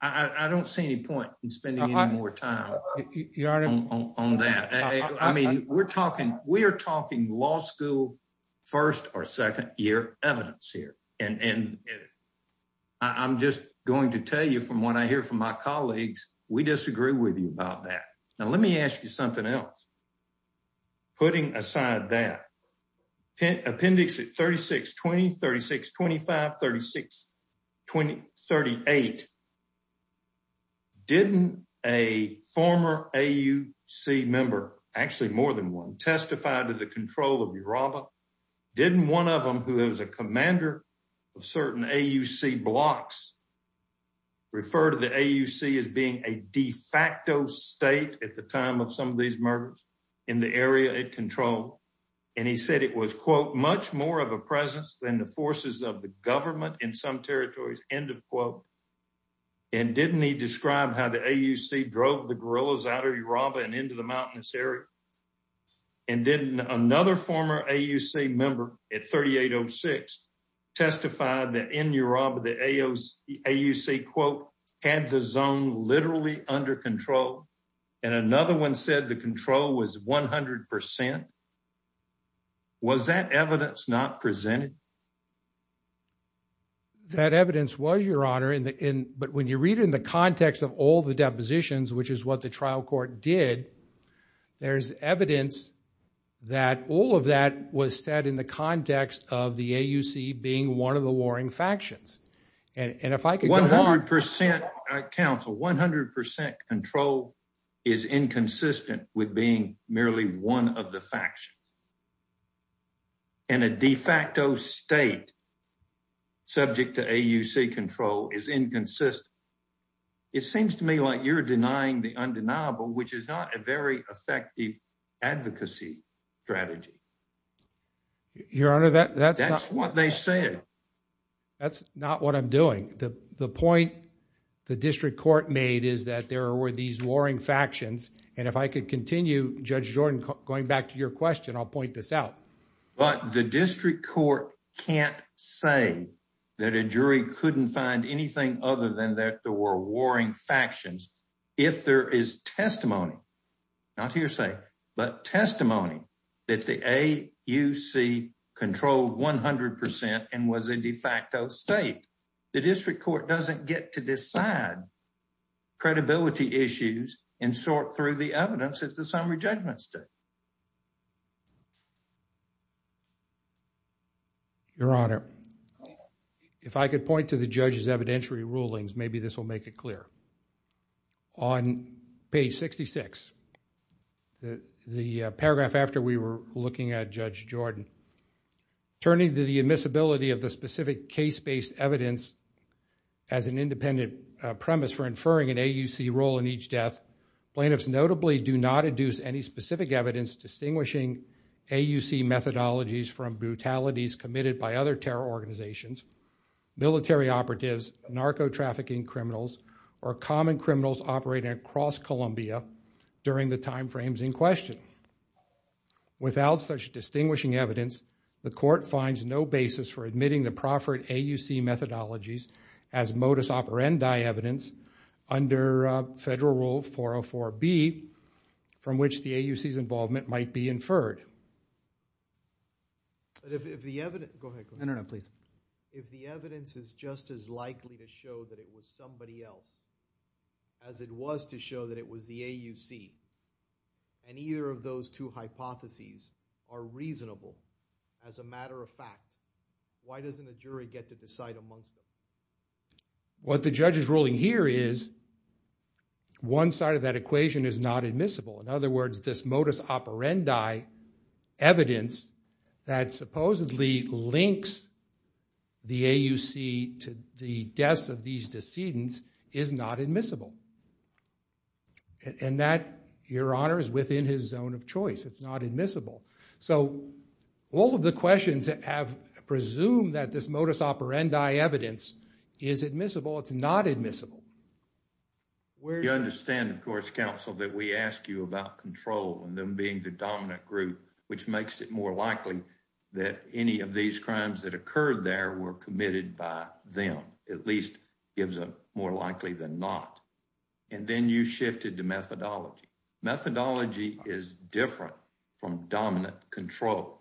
I don't see any point in spending any more time on that. I mean, we're talking law school first or second year evidence here. And I'm just going to tell you from what I hear from my colleagues, we disagree with you about that. Now, let me ask you something else. Putting aside that, appendix 3620, 3625, 3628, didn't a former AUC member, actually more than one, testify to the control of Uraba? Didn't one of them, who is a commander of certain AUC blocks, refer to the AUC as being a de facto state at the time of some of these murders in the area it controlled? And he said it was, quote, much more of a presence than the forces of the government in some territories, end of quote. And didn't he describe how the AUC drove the guerrillas out of Uraba and into the mountainous area? And didn't another former AUC member, at 3806, testify that in Uraba the AUC, quote, had the zone literally under control, and another one said the control was 100%? Was that evidence not presented? That evidence was, Your Honor. But when you read it in the context of all the depositions, which is what the trial court did, there's evidence that all of that was said in the context of the AUC being one of the warring factions. And if I could go on. 100% control is inconsistent with being merely one of the factions. And a de facto state subject to AUC control is inconsistent. It seems to me like you're denying the undeniable, which is not a very effective advocacy strategy. Your Honor, that's not what they said. That's not what I'm doing. The point the district court made is that there were these warring factions. And if I could continue, Judge Jordan, going back to your question, I'll point this out. But the district court can't say that a jury couldn't find anything other than that there were warring factions. If there is testimony, not hearsay, but testimony that the AUC controlled 100% and was a de facto state, the district court doesn't get to decide credibility issues and sort through the evidence. It's the same rejected state. Your Honor, if I could point to the judge's evidentiary rulings, maybe this will make it clear. On page 66, the paragraph after we were looking at Judge Jordan, turning to the admissibility of the specific case-based evidence as an independent premise for inferring an AUC role in each death, plaintiffs notably do not induce any specific evidence distinguishing AUC methodologies from brutalities committed by other terror organizations, military operatives, narco-trafficking criminals, or common criminals operating across Columbia during the time frames in question. Without such distinguishing evidence, the court finds no basis for admitting the proffered AUC methodologies as modus operandi evidence under Federal Rule 404B, from which the AUC's involvement might be inferred. If the evidence is just as likely to show that it was somebody else as it was to show that it was the AUC, and either of those two hypotheses are reasonable as a matter of fact, why doesn't the jury get to decide amongst them? What the judge is ruling here is one side of that equation is not admissible. In other words, this modus operandi evidence that supposedly links the AUC to the death of these decedents is not admissible. And that, Your Honor, is within his zone of choice. It's not admissible. So all of the questions that have presumed that this modus operandi evidence is admissible, it's not admissible. You understand, of course, Counsel, that we ask you about control and them being the dominant group, which makes it more likely that any of these crimes that occurred there were committed by them, at least gives a more likely than not. And then you shifted to methodology. Methodology is different from dominant control.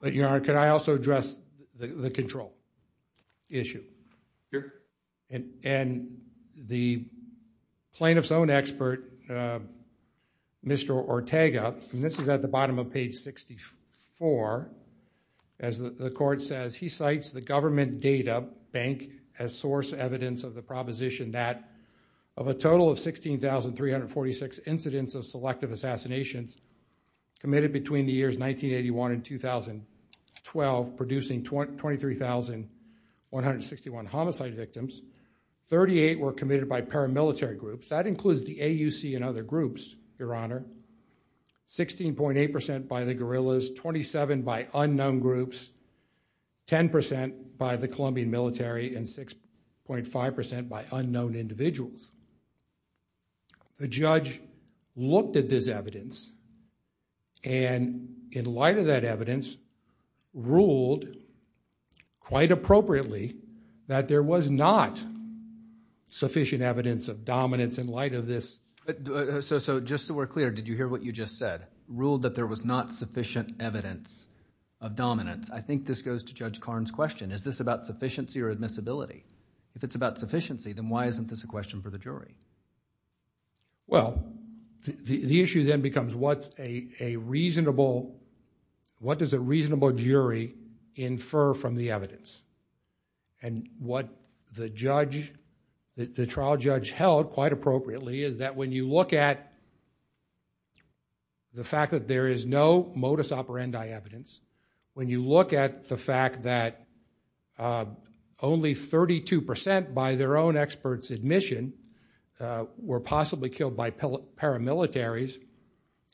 But, Your Honor, can I also address the control issue? Sure. And the plaintiff's own expert, Mr. Ortega, and this is at the bottom of page 64, as the court says, he cites the government data bank as source evidence of the proposition that of a total of 16,346 incidents of selective assassinations committed between the years 1981 and 2012, producing 23,161 homicide victims. 38 were committed by paramilitary groups. That includes the AUC and other groups, Your Honor. 16.8% by the guerrillas, 27 by unknown groups, 10% by the Colombian military, and 6.5% by unknown individuals. The judge looked at this evidence and, in light of that evidence, ruled, quite appropriately, that there was not sufficient evidence of dominance in light of this. So, just so we're clear, did you hear what you just said? Ruled that there was not sufficient evidence of dominance. I think this goes to Judge Karn's question. Is this about sufficiency or admissibility? If it's about sufficiency, then why isn't this a question for the jury? Well, the issue then becomes what does a reasonable jury infer from the evidence? And what the trial judge held, quite appropriately, is that when you look at the fact that there is no modus operandi evidence, when you look at the fact that only 32% by their own experts' admission were possibly killed by paramilitaries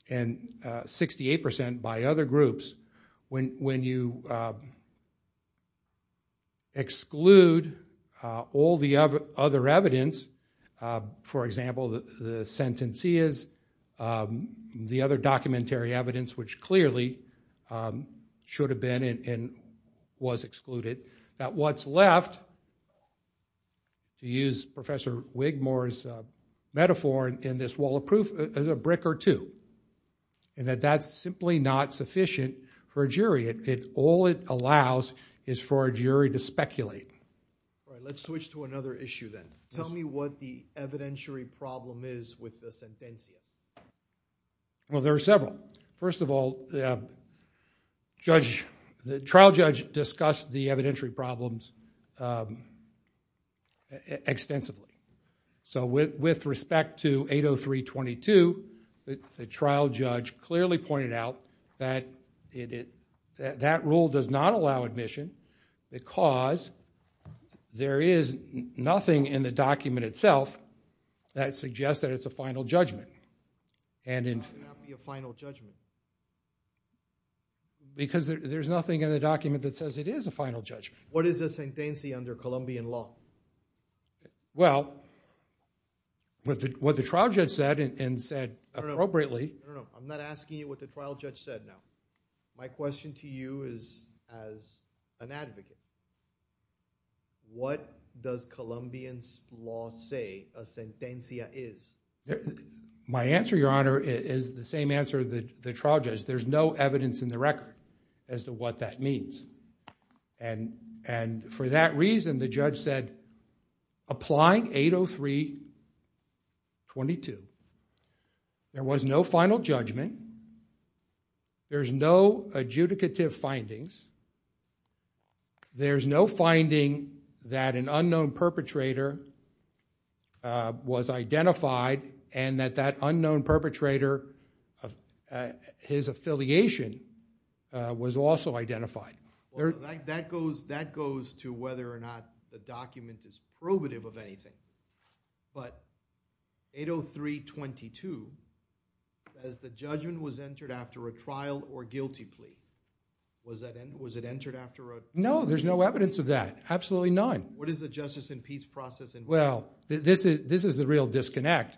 and 68% by other groups, when you exclude all the other evidence, for example, the sentencias, the other documentary evidence, which clearly should have been and was excluded, that what's left, to use Professor Wigmore's metaphor, in this wall of proof is a brick or two. And that that's simply not sufficient for a jury. All it allows is for a jury to speculate. Let's switch to another issue then. Tell me what the evidentiary problem is with the sentencia. Well, there are several. First of all, the trial judge discussed the evidentiary problems extensively. So with respect to 803.22, the trial judge clearly pointed out that that rule does not allow admission because there is nothing in the document itself that suggests that it's a final judgment. Why would it not be a final judgment? Because there's nothing in the document that says it is a final judgment. What is a sentencia under Colombian law? Well, what the trial judge said, and said appropriately. I'm not asking you what the trial judge said now. My question to you is, as an advocate, what does Colombian law say a sentencia is? My answer, Your Honor, is the same answer of the trial judge. There's no evidence in the record as to what that means. And for that reason, the judge said, Apply 803.22. There was no final judgment. There's no adjudicative findings. There's no finding that an unknown perpetrator was identified and that that unknown perpetrator, his affiliation, was also identified. That goes to whether or not the document is probative of anything. But 803.22 says the judgment was entered after a trial or guilty plea. Was it entered after a trial? No, there's no evidence of that. Absolutely none. What is the justice and peace process? Well, this is the real disconnect.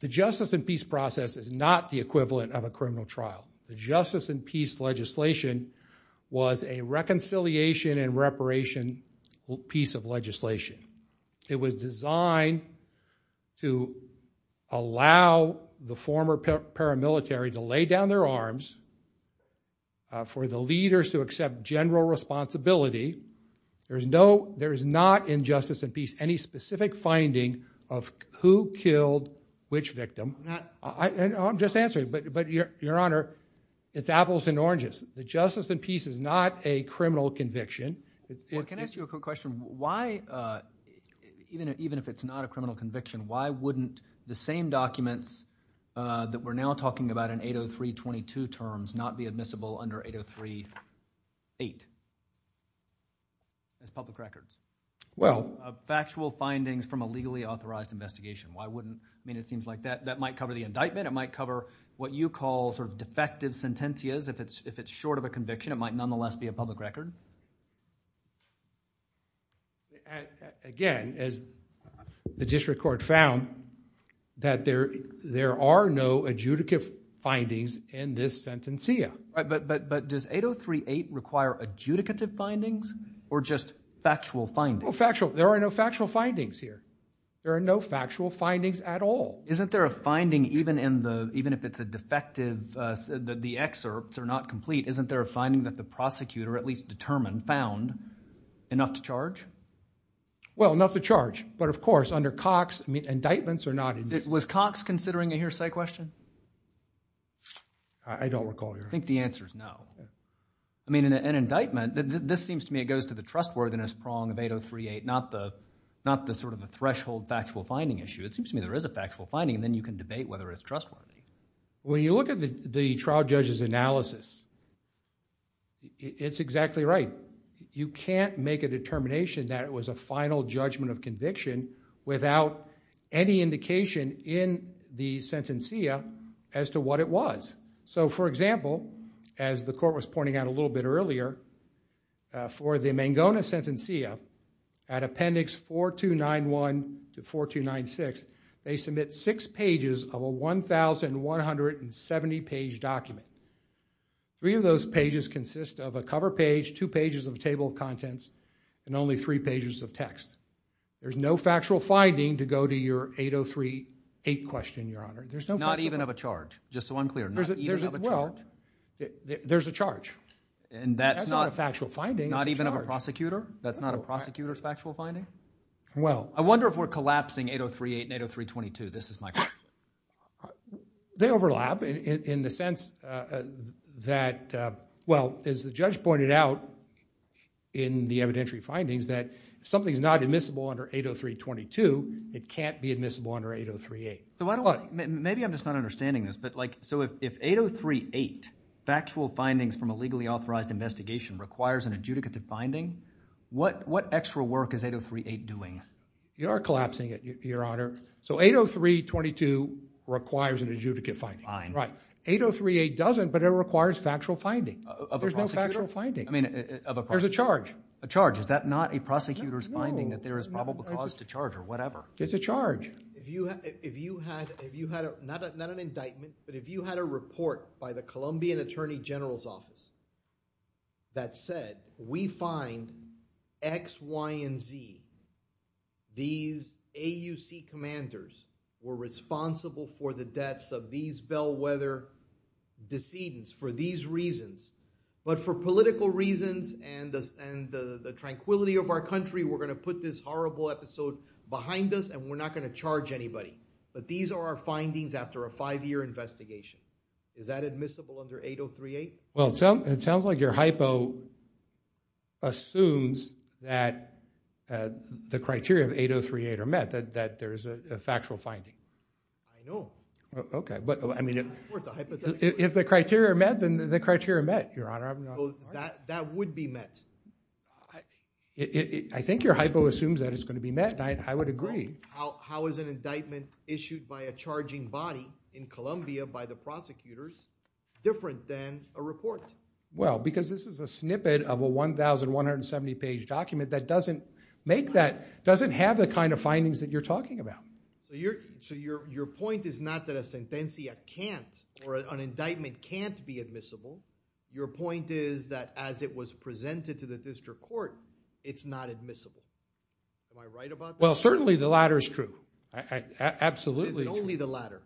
The justice and peace process is not the equivalent of a criminal trial. The justice and peace legislation was a reconciliation and reparation piece of legislation. It was designed to allow the former paramilitary to lay down their arms for the leaders to accept general responsibility. There is not in justice and peace any specific finding of who killed which victim. I'm just answering, but Your Honor, it's apples and oranges. The justice and peace is not a criminal conviction. Well, can I ask you a quick question? Even if it's not a criminal conviction, why wouldn't the same documents that we're now talking about in 803.22 terms not be admissible under 803.8 as public records? Well. Factual findings from a legally authorized investigation. Why wouldn't – I mean, it seems like that might cover the indictment. It might cover what you call sort of defective sentencias. If it's short of a conviction, it might nonetheless be a public record. Again, as the district court found, that there are no adjudicative findings in this sentencia. But does 803.8 require adjudicative findings or just factual findings? Well, factual – there are no factual findings here. There are no factual findings at all. Isn't there a finding even in the – even if it's a defective – the excerpts are not complete, isn't there a finding that the prosecutor at least determined, found, enough to charge? Well, enough to charge. But, of course, under Cox, indictments are not – Was Cox considering a hearsay question? I don't recall, Your Honor. I think the answer is no. I mean, an indictment – this seems to me it goes to the trustworthiness prong of 803.8, not the sort of a threshold factual finding issue. It seems to me there is a factual finding, and then you can debate whether it's trustworthy. When you look at the trial judge's analysis, it's exactly right. You can't make a determination that it was a final judgment of conviction without any indication in the sentencia as to what it was. So, for example, as the court was pointing out a little bit earlier, for the Mangona Sentencia, at Appendix 4291 to 4296, they submit six pages of a 1,170-page document. Three of those pages consist of a cover page, two pages of table of contents, and only three pages of text. There's no factual finding to go to your 803.8 question, Your Honor. There's no – Not even of a charge. Just so I'm clear, not even of a charge. Well, there's a charge. And that's not – That's not a factual finding. Not even of a prosecutor? That's not a prosecutor's factual finding? Well – I wonder if we're collapsing 803.8 and 803.22. This is my question. They overlap in the sense that, well, as the judge pointed out in the evidentiary findings, that something's not admissible under 803.22, it can't be admissible under 803.8. So why don't we – maybe I'm just not understanding this, but, like, so if 803.8, factual findings from a legally authorized investigation, requires an adjudicative finding, what extra work is 803.8 doing? You are collapsing it, Your Honor. So 803.22 requires an adjudicate finding. Fine. Right. 803.8 doesn't, but it requires factual finding. There's no factual finding. I mean, of a – There's a charge. A charge. Is that not a prosecutor's finding that there is probable cause to charge or whatever? It's a charge. Your Honor, if you had a – not an indictment, but if you had a report by the Colombian Attorney General's Office that said, we find X, Y, and Z, these AUC commanders were responsible for the deaths of these bellwether decedents for these reasons, but for political reasons and the tranquility of our country, we're going to put this horrible episode behind us and we're not going to charge anybody. But these are our findings after a five-year investigation. Is that admissible under 803.8? Well, it sounds like your hypo assumes that the criteria of 803.8 are met, that there is a factual finding. I know. Okay, but, I mean, if the criteria are met, then the criteria are met, Your Honor. That would be met. I think your hypo assumes that it's going to be met, and I would agree. How is an indictment issued by a charging body in Colombia by the prosecutors different than a report? Well, because this is a snippet of a 1,170-page document that doesn't make that – doesn't have the kind of findings that you're talking about. So your point is not that a sentencia can't, or an indictment can't be admissible. Your point is that as it was presented to the district court, it's not admissible. Am I right about that? Well, certainly the latter is true. Absolutely. It's only the latter.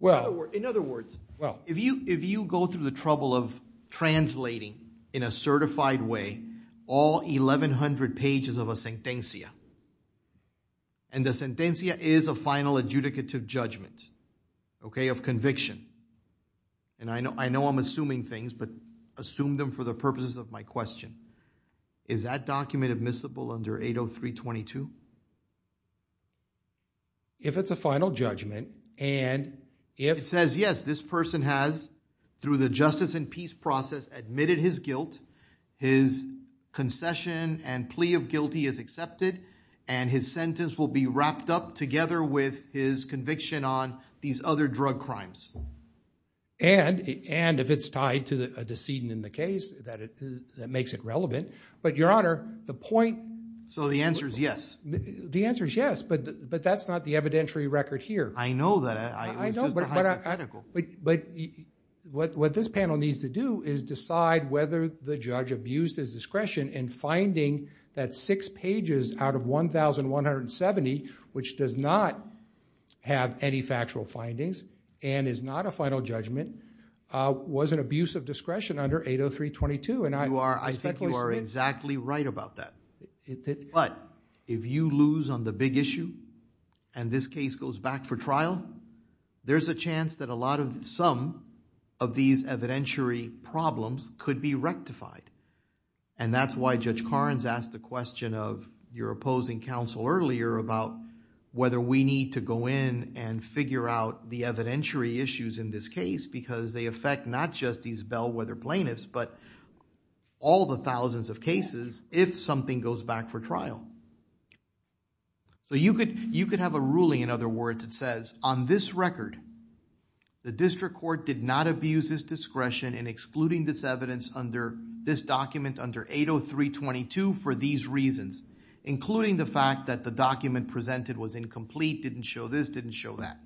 Well. In other words, if you go through the trouble of translating in a certified way all 1,100 pages of a sentencia, and the sentencia is a final adjudicative judgment, okay, of conviction. And I know I'm assuming things, but assume them for the purposes of my question. Is that document admissible under 80322? If it's a final judgment, and if it says, yes, this person has, through the justice and peace process, admitted his guilt, his concession and plea of guilty is accepted, and his sentence will be wrapped up together with his conviction on these other drug crimes. And if it's tied to a decedent in the case, that makes it relevant. But, Your Honor, the point – So the answer is yes. The answer is yes, but that's not the evidentiary record here. I know that. I know, but what this panel needs to do is decide whether the judge abused his discretion in finding that six pages out of 1,170, which does not have any factual findings and is not a final judgment, was an abuse of discretion under 80322. I think you are exactly right about that. But if you lose on the big issue, and this case goes back for trial, there's a chance that a lot of some of these evidentiary problems could be rectified. And that's why Judge Karnes asked the question of your opposing counsel earlier about whether we need to go in and figure out the evidentiary issues in this case because they affect not just these bellwether plaintiffs, but all the thousands of cases if something goes back for trial. So you could have a ruling, in other words, that says, on this record, the district court did not abuse his discretion in excluding this evidence under this document under 80322 for these reasons, including the fact that the document presented was incomplete, didn't show this, didn't show that.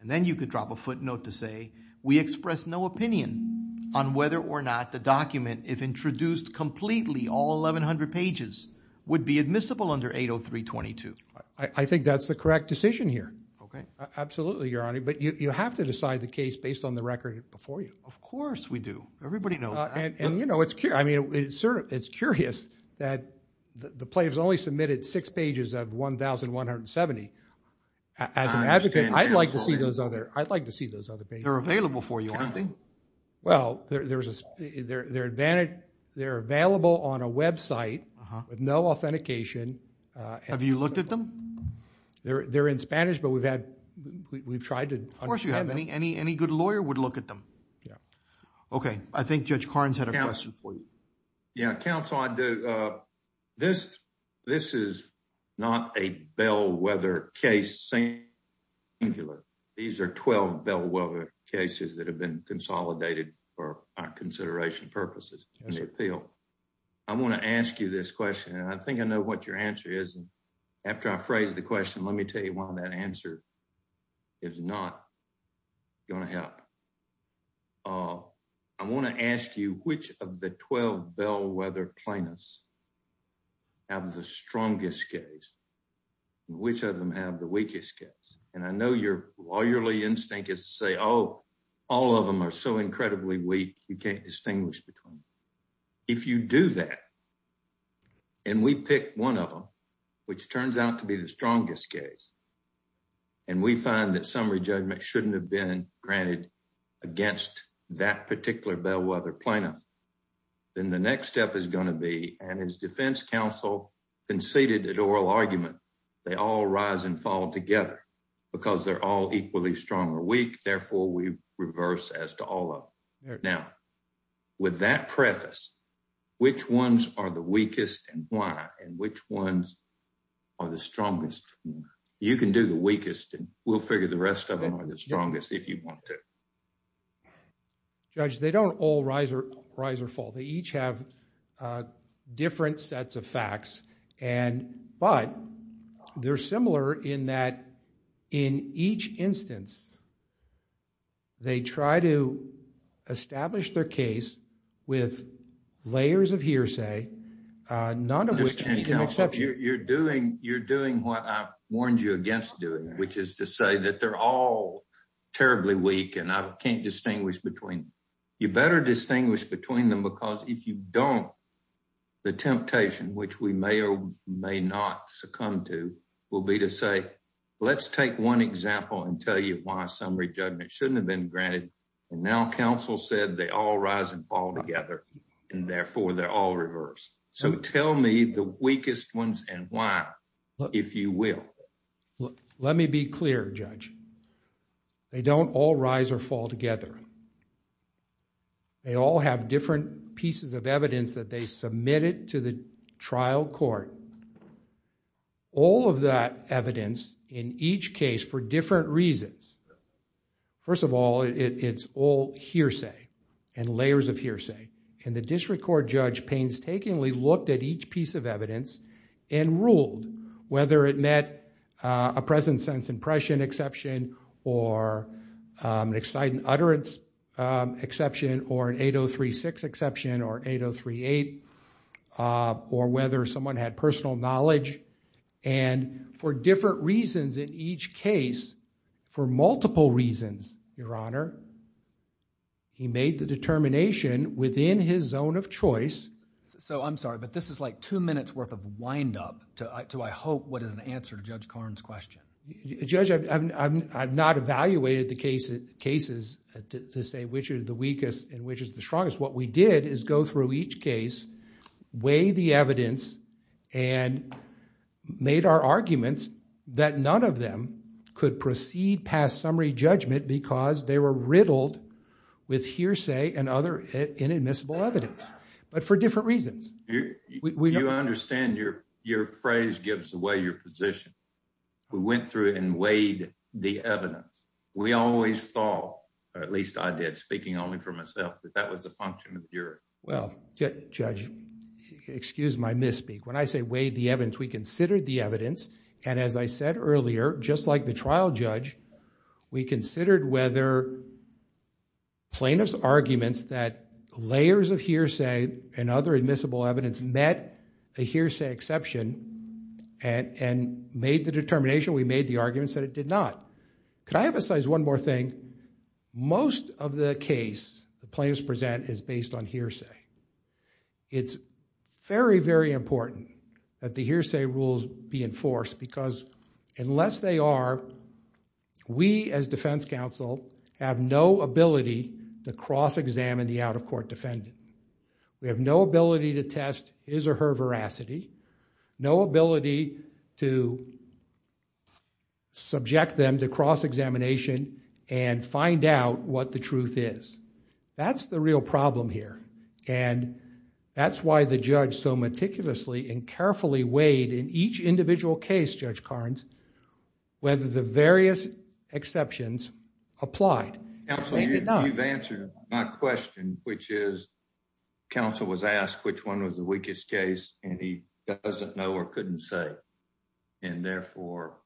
And then you could drop a footnote to say we express no opinion on whether or not the document, if introduced completely, all 1,100 pages, would be admissible under 80322. I think that's the correct decision here. Okay. Absolutely, Your Honor. But you have to decide the case based on the record before you. Of course we do. Everybody knows that. And, you know, it's curious that the plaintiff's only submitted six pages of 1,170. As an advocate, I'd like to see those other pages. They're available for you, aren't they? Well, they're available on a website with no authentication. Have you looked at them? They're in Spanish, but we've tried to understand. Of course you have. Any good lawyer would look at them. Okay. I think Judge Carnes had a question for you. Yeah, counsel, I do. This is not a bellwether case. These are 12 bellwether cases that have been consolidated for our consideration purposes. I want to ask you this question, and I think I know what your answer is. After I phrase the question, let me tell you why that answer is not going to help. I want to ask you, which of the 12 bellwether plaintiffs have the strongest case? Which of them have the weakest case? And I know your lawyerly instinct is to say, oh, all of them are so incredibly weak, you can't distinguish between them. If you do that, and we pick one of them, which turns out to be the strongest case, and we find that summary judgment shouldn't have been granted against that particular bellwether plaintiff, then the next step is going to be, and as defense counsel conceded at oral argument, they all rise and fall together because they're all equally strong or weak. Therefore, we reverse as to all of them. Now, with that preface, which ones are the weakest and why, and which ones are the strongest? You can do the weakest, and we'll figure the rest of them are the strongest if you want to. Judge, they don't all rise or fall. But they're similar in that in each instance they try to establish their case with layers of hearsay. None of which can be accepted. You're doing what I warned you against doing, which is to say that they're all terribly weak, and I can't distinguish between them. You better distinguish between them because if you don't, the temptation, which we may or may not succumb to, will be to say, let's take one example and tell you why summary judgment shouldn't have been granted, and now counsel said they all rise and fall together, and therefore they're all reversed. So tell me the weakest ones and why, if you will. Let me be clear, Judge. They don't all rise or fall together. They all have different pieces of evidence that they submitted to the trial court. All of that evidence in each case for different reasons. First of all, it's all hearsay and layers of hearsay, and the district court judge painstakingly looked at each piece of evidence and ruled whether it met a present sense impression exception or an excited utterance exception or an 8036 exception or 8038 or whether someone had personal knowledge. And for different reasons in each case, for multiple reasons, Your Honor, he made the determination within his zone of choice. So I'm sorry, but this is like two minutes worth of wind-up to, I hope, what is the answer to Judge Karn's question. Judge, I've not evaluated the cases to say which is the weakest and which is the strongest. What we did is go through each case, weigh the evidence, and made our arguments that none of them could proceed past summary judgment because they were riddled with hearsay and other inadmissible evidence. But for different reasons. You understand your phrase gives away your position. We went through it and weighed the evidence. We always saw, at least I did, speaking only for myself, that that was the function of the jury. Well, Judge, excuse my misspeak. When I say weighed the evidence, we considered the evidence, and as I said earlier, just like the trial judge, we considered whether plaintiff's argument that layers of hearsay and other admissible evidence met a hearsay exception and made the determination, we made the argument that it did not. Can I emphasize one more thing? Most of the case the plaintiffs present is based on hearsay. It's very, very important that the hearsay rules be enforced because unless they are, we as defense counsel have no ability to cross-examine the out-of-court defendant. We have no ability to test his or her veracity, no ability to subject them to cross-examination and find out what the truth is. That's the real problem here. And that's why the judge so meticulously and carefully weighed in each individual case, Judge Carnes, whether the various exceptions applied. Counsel, you've answered my question, which is counsel was asked which one was the weakest case, and he doesn't know or couldn't say, and therefore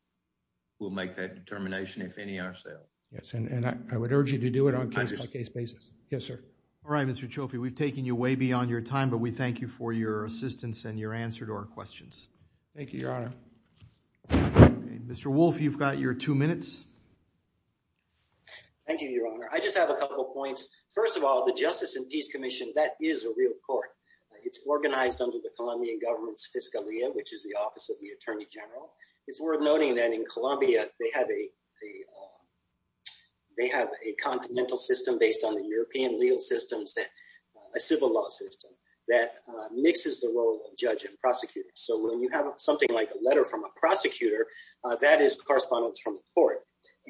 we'll make that determination if any ourselves. Yes, and I would urge you to do it on a case-by-case basis. Yes, sir. All right, Mr. Cioffi, we've taken you way beyond your time, but we thank you for your assistance and your answer to our questions. Thank you, Your Honor. Mr. Wolfe, you've got your two minutes. Thank you, Your Honor. I just have a couple points. First of all, the Justice and Peace Commission, that is a real court. It's organized under the Colombian government's fiscalia, which is the office of the attorney general. It's worth noting that in Colombia, they have a continental system based on the European legal systems, a civil law system that mixes the role of judge and prosecutor. So when you have something like a letter from a prosecutor, that is correspondence from the court.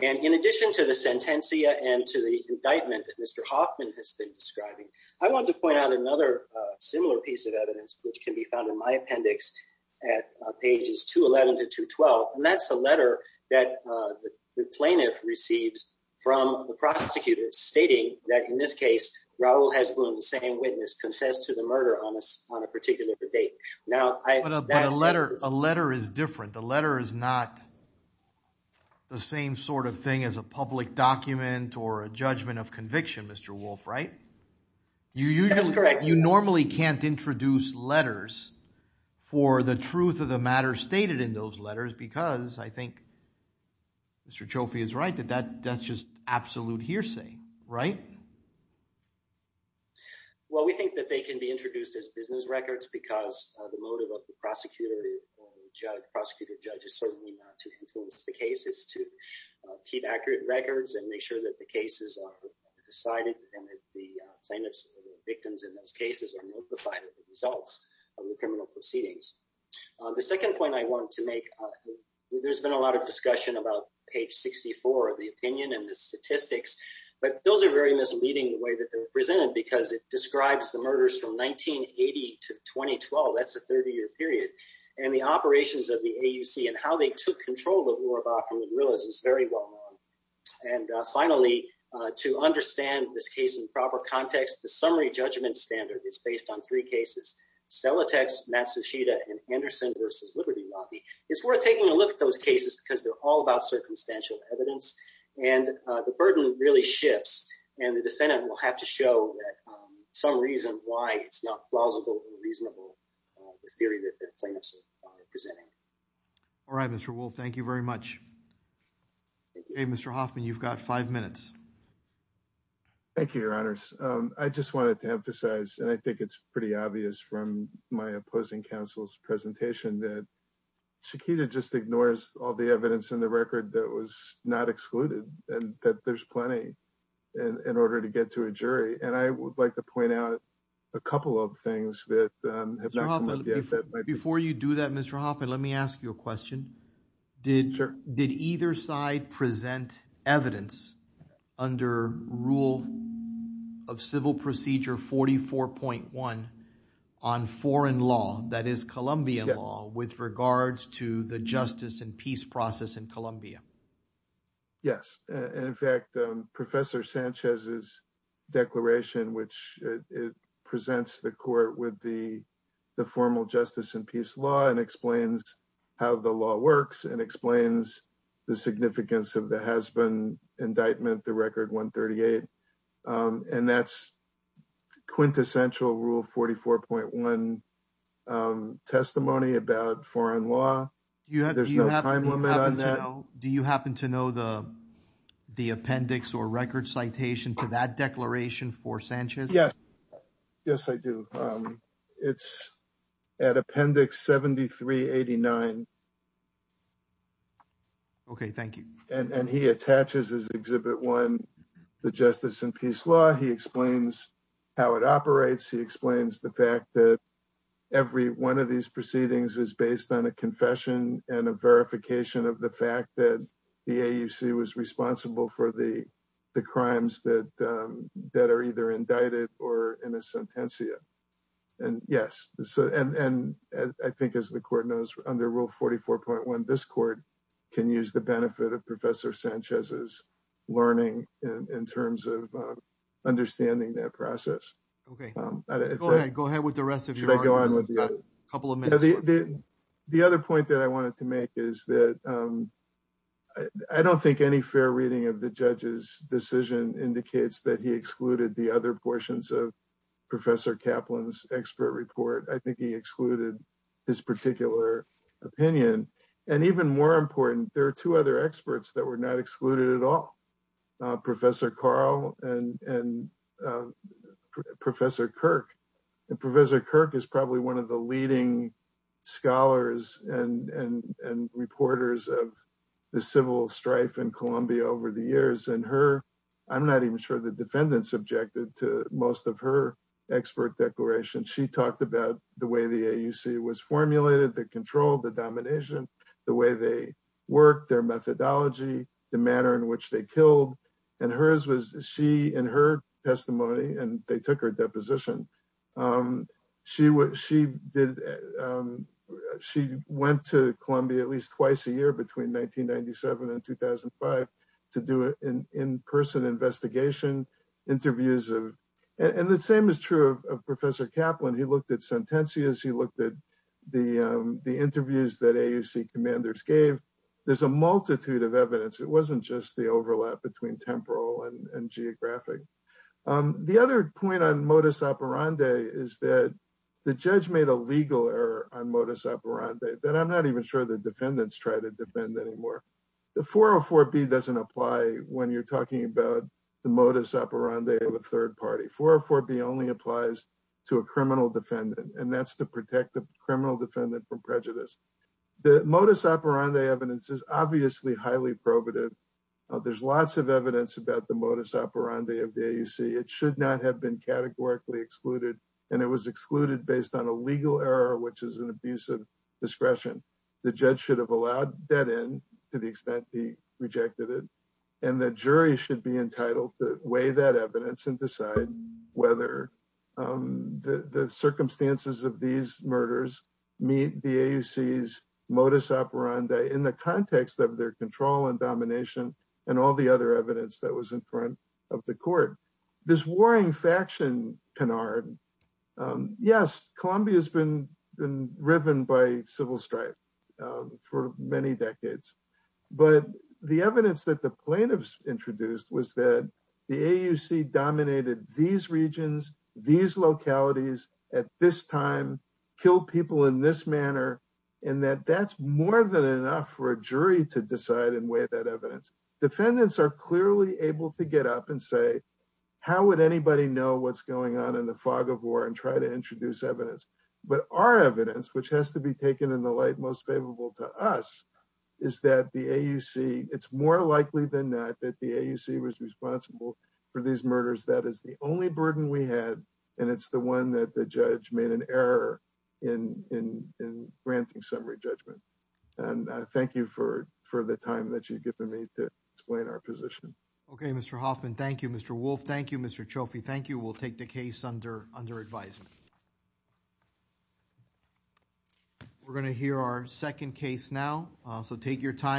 And in addition to the sentencia and to the indictment that Mr. Hoffman has been describing, I want to point out another similar piece of evidence, which can be found in my appendix at pages 211 to 212, and that's a letter that the plaintiff receives from the prosecutor stating that, in this case, Raul Hezbollah, the saying witness, consents to the murder on a particular debate. But a letter is different. The letter is not the same sort of thing as a public document or a judgment of conviction, Mr. Wolf, right? That is correct. You normally can't introduce letters for the truth of the matter stated in those letters, because I think Mr. Cioffi is right that that's just absolute hearsay, right? Well, we think that they can be introduced as business records, because the motive of the prosecutor or the judge, prosecutor, judge, is certainly not to confuse the cases, to keep accurate records and make sure that the cases are decided, and that the plaintiffs or the victims in those cases are notified of the results of the criminal proceedings. The second point I want to make, there's been a lot of discussion about page 64 of the opinion and the statistics, but those are very misleading in the way that they're presented, because it describes the murders from 1980 to 2012. That's a 30-year period. And the operations of the AUC and how they took control of the war in the guerrillas is very well known. And finally, to understand this case in proper context, the summary judgment standard is based on three cases, Stellatex, Matsushita, and Anderson v. Liberty Lobby. It's worth taking a look at those cases, because they're all about circumstantial evidence, and the burden really shifts, and the defendant will have to show some reason why it's not plausible and reasonable, the theory that the plaintiffs are presenting. All right, Mr. Wolfe, thank you very much. Okay, Mr. Hoffman, you've got five minutes. Thank you, Your Honors. I just wanted to emphasize, and I think it's pretty obvious from my opposing counsel's presentation, that Chiquita just ignores all the evidence in the record that was not excluded, and that there's plenty in order to get to a jury. And I would like to point out a couple of things that have come up. Before you do that, Mr. Hoffman, let me ask you a question. Did either side present evidence under Rule of Civil Procedure 44.1 on foreign law, that is, Colombian law, with regards to the justice and peace process in Colombia? Yes. In fact, Professor Sanchez's declaration, which presents the court with the formal justice and peace law and explains how the law works and explains the significance of the has-been indictment, the Record 138, and that's quintessential Rule 44.1 testimony about foreign law. Do you happen to know the appendix or record citation to that declaration for Sanchez? Yes, I do. It's at Appendix 7389. Okay, thank you. And he attaches as Exhibit 1 the justice and peace law. He explains how it operates. He explains the fact that every one of these proceedings is based on a confession and a verification of the fact that the AUC was responsible for the crimes that are either indicted or in a sentencia. And, yes, I think as the court knows, under Rule 44.1, this court can use the benefit of Professor Sanchez's learning in terms of understanding that process. Okay. Go ahead with the rest of your argument. Should I go on with you? You've got a couple of minutes. The other point that I wanted to make is that I don't think any fair reading of the judge's decision indicates that he excluded the other portions of Professor Kaplan's expert report. I think he excluded his particular opinion. And even more important, there are two other experts that were not excluded at all, Professor Karl and Professor Kirk. And Professor Kirk is probably one of the leading scholars and reporters of the civil strife in Colombia over the years. And I'm not even sure the defendants objected to most of her expert declarations. She talked about the way the AUC was formulated, the control, the domination, the way they worked, their methodology, the manner in which they killed. And in her testimony, and they took her deposition, she went to Colombia at least twice a year between 1997 and 2005 to do an in-person investigation, interviews. And the same is true of Professor Kaplan. He looked at sentencias. He looked at the interviews that AUC commanders gave. There's a multitude of evidence. It wasn't just the overlap between temporal and geographic. The other point on modus operandi is that the judge made a legal error on modus operandi that I'm not even sure the defendants try to defend anymore. The 404B doesn't apply when you're talking about the modus operandi of a third party. 404B only applies to a criminal defendant, and that's to protect the criminal defendant from prejudice. The modus operandi evidence is obviously highly probative. There's lots of evidence about the modus operandi of the AUC. It should not have been categorically excluded, and it was excluded based on a legal error, which is an abuse of discretion. The judge should have allowed that in to the extent he rejected it, and the jury should be entitled to weigh that evidence and decide whether the circumstances of these murders meet the AUC's modus operandi in the context of their control and domination and all the other evidence that was in front of the court. This warring faction canard, yes, Columbia has been riven by civil strife for many decades, but the evidence that the plaintiffs introduced was that the AUC dominated these regions, these localities at this time, killed people in this manner, and that that's more than enough for a jury to decide and weigh that evidence. Defendants are clearly able to get up and say, how would anybody know what's going on in the fog of war and try to introduce evidence? But our evidence, which has to be taken in the light most favorable to us, is that the AUC, it's more likely than that that the AUC was responsible for these murders. And the judge was able to make an error in granting summary judgment. And I thank you for the time that you've given me to explain our position. Okay, Mr. Hoffman. Thank you, Mr. Wolff. Thank you, Mr. Chofie. Thank you. We'll take the case under advisement. We're going to hear our second case now, so take your time.